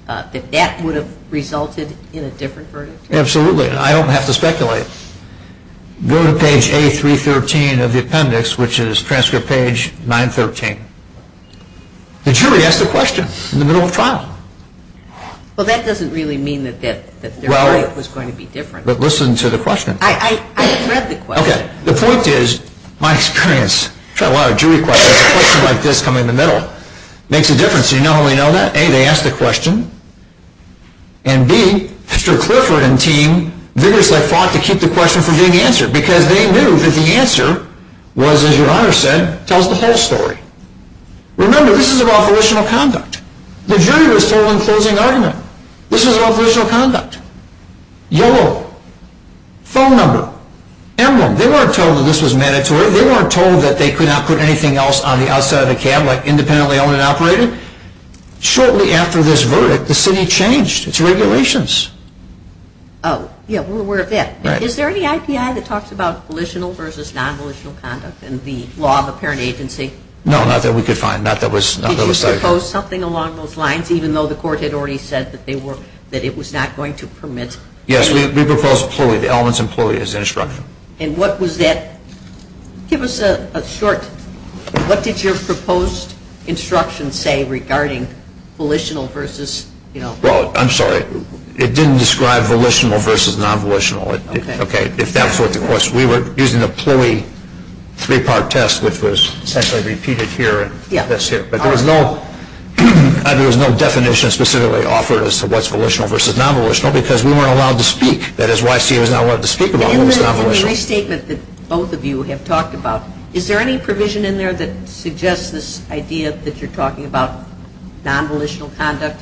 that that would have resulted in a different verdict? Absolutely. I don't have to speculate. Go to page A313 of the appendix, which is transcript page 913. The jury asked a question in the middle of the file. Well, that doesn't really mean that their verdict was going to be different. But listen to the question. I read the question. Okay. The point is, my experience, I've tried a lot of jury questions, a question like this coming in the middle makes a difference. You not only know that, A, they asked the question, and B, Mr. Clifford and team vigorously fought to keep the question from being answered, because they knew that the answer was, as your Honor said, tells the whole story. Remember, this is an operational conduct. The jury was following a closing argument. This is an operational conduct. Yellow, phone number, emblem, they weren't told that this was mandatory. They weren't told that they could not put anything else on the outside of the cab, like independently owned and operated. Shortly after this verdict, the city changed its regulations. Yeah, we're aware of that. Is there any IPI that talks about volitional versus non-volitional conduct in the law of a parent agency? No, not that we could find. Not that was cited. Did you propose something along those lines, even though the court had already said that it was not going to permit? Yes, we proposed fully, the elements and fully as an instruction. And what was that? Give us a short, what did your proposed instruction say regarding volitional versus, you know? Well, I'm sorry, it didn't describe volitional versus non-volitional. Okay. If that's what the question is. We were using a fully three-part test that was essentially repeated here. Yeah. But there was no definition specifically offered as to what's volitional versus non-volitional, because we weren't allowed to speak. That is, YC was not allowed to speak about what was non-volitional. In the restatement that both of you have talked about, is there any provision in there that suggests this idea that you're talking about non-volitional conduct?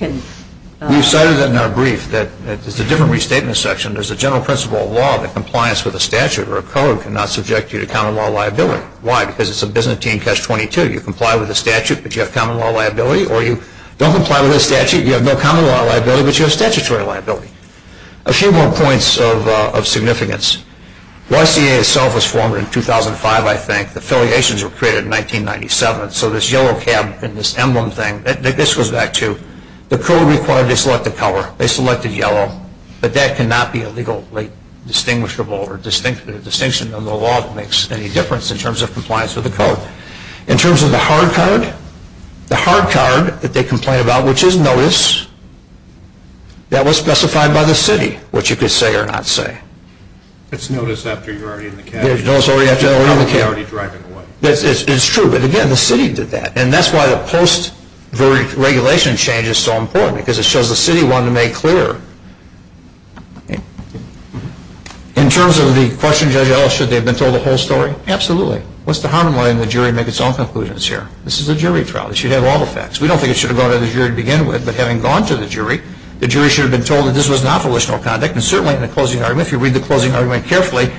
We've cited it in our brief that there's a different restatement section. There's a general principle of law that compliance with a statute or a code cannot subject you to common law liability. Why? Because it's a Byzantine Test 22. You comply with the statute, but you have common law liability, or you don't comply with the statute, you have no common law liability, but you have statutory liability. A few more points of significance. The SDA itself was formed in 2005, I think. The affiliations were created in 1997. So this yellow cap and this emblem thing, this goes back to the code required to select a color. They selected yellow. But that cannot be illegally distinguishable, or the distinction in the law makes any difference in terms of compliance with the code. In terms of the hard card, the hard card that they complain about, which is notice, that was specified by the city, what you could say or not say. It's notice after you're already in the cab. It's notice after you're already in the cab. You're already driving away. It's true. But, again, the city did that. And that's why the post-regulation change is so important, because it shows the city wanted to make clear. In terms of the question, Judge Ellis, should they have been told the whole story? Absolutely. What's the harm in letting the jury make its own conclusions here? This is a jury trial. This should have all the facts. We don't think it should have gone to the jury to begin with, but having gone to the jury, the jury should have been told that this was not volitional conduct. And certainly in the closing argument, if you read the closing argument carefully,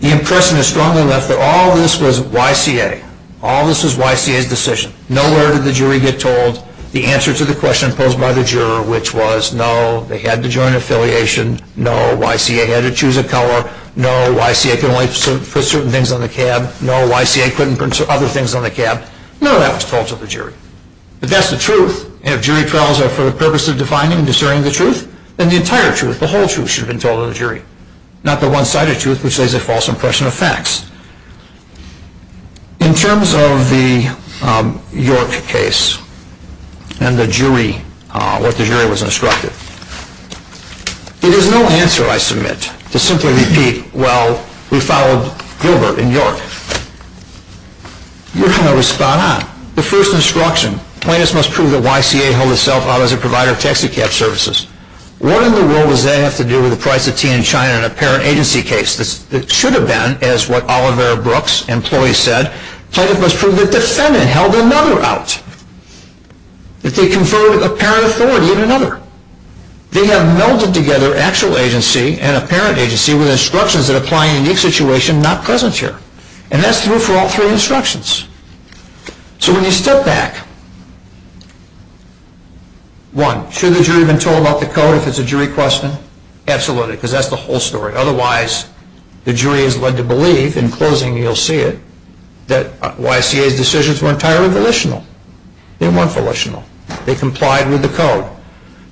the impression is strongly left that all of this was YCA. All of this was YCA's decision. Nowhere did the jury get told the answer to the question posed by the juror, which was no, they had to join affiliation. No, YCA had to choose a color. No, YCA could only put certain things on the cab. No, YCA couldn't put other things on the cab. None of that was told to the jury. But that's the truth. If jury trials are for the purpose of defining and discerning the truth, then the entire truth, the whole truth, should have been told to the jury, not the one-sided truth, which lays a false impression of facts. In terms of the York case and the jury, what the jury was instructed, there was no answer, I submit, to simply repeat, well, we followed Gilbert in York. You're going to respond, the first instruction, plaintiffs must prove that YCA held itself out as a provider of taxicab services. What in the world does that have to do with the price of tea in China in a parent agency case? It should have been, as what Oliver Brooks, employee, said, plaintiff must prove that defendant held another out. If they conferred a parent authority in another. They had melded together actual agency and a parent agency with instructions that apply in a unique situation not present here. And that's true for all three instructions. So when you step back, one, should the jury have been told about the code if it's a jury question? Absolutely, because that's the whole story. Otherwise, the jury is led to believe, in closing you'll see it, that YCA's decisions were entirely volitional. They weren't volitional. They complied with the code.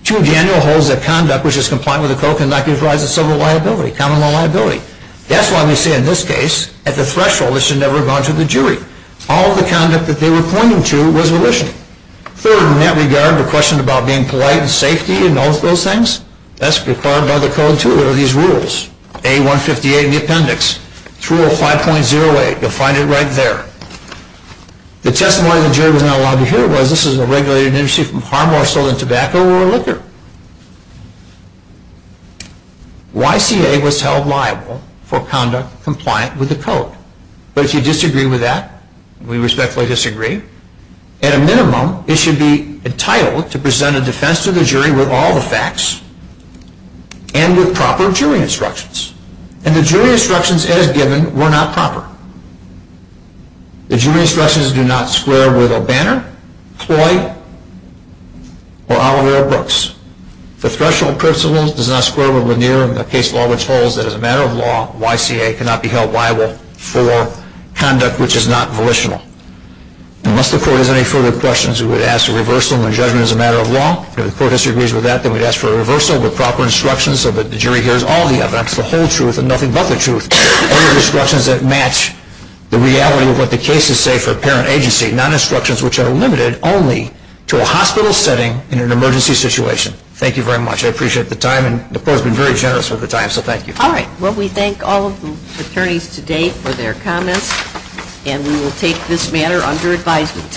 Two, Daniel holds that conduct which is compliant with the code can not give rise to civil liability, common law liability. That's why they say in this case, at the threshold, it should never have gone to the jury. All the conduct that they were pointing to was volitional. Third, in that regard, the question about being polite and safety and all of those things, that's required by the code, too. There are these rules. A-158, the appendix. 305.08, defined it right there. The testimony the jury was not allowed to hear was, this is a regulated industry from harm less sold in tobacco or liquor. YCA was held liable for conduct compliant with the code. But if you disagree with that, we respectfully disagree. At a minimum, it should be entitled to present a defense to the jury with all the facts and with proper jury instructions. And the jury instructions, as given, were not proper. The jury instructions do not square with O'Banner, Cloy, or Oliver O. Brooks. The threshold principle does not square with Lanier in the case law, which holds that as a matter of law, YCA cannot be held liable for conduct which is not volitional. Unless the court has any further questions, we would ask a reversal in the judgment as a matter of law. If the court disagrees with that, then we'd ask for a reversal with proper instructions so that the jury hears all the evidence, the whole truth, and nothing but the truth. Any instructions that match the reality of what the cases say for parent agency, non-instructions which are limited only to a hospital setting in an emergency situation. Thank you very much. I appreciate the time. And the court has been very generous with the time, so thank you. All right. Well, we thank all of the attorneys today for their comments. And we will take this matter under advisement.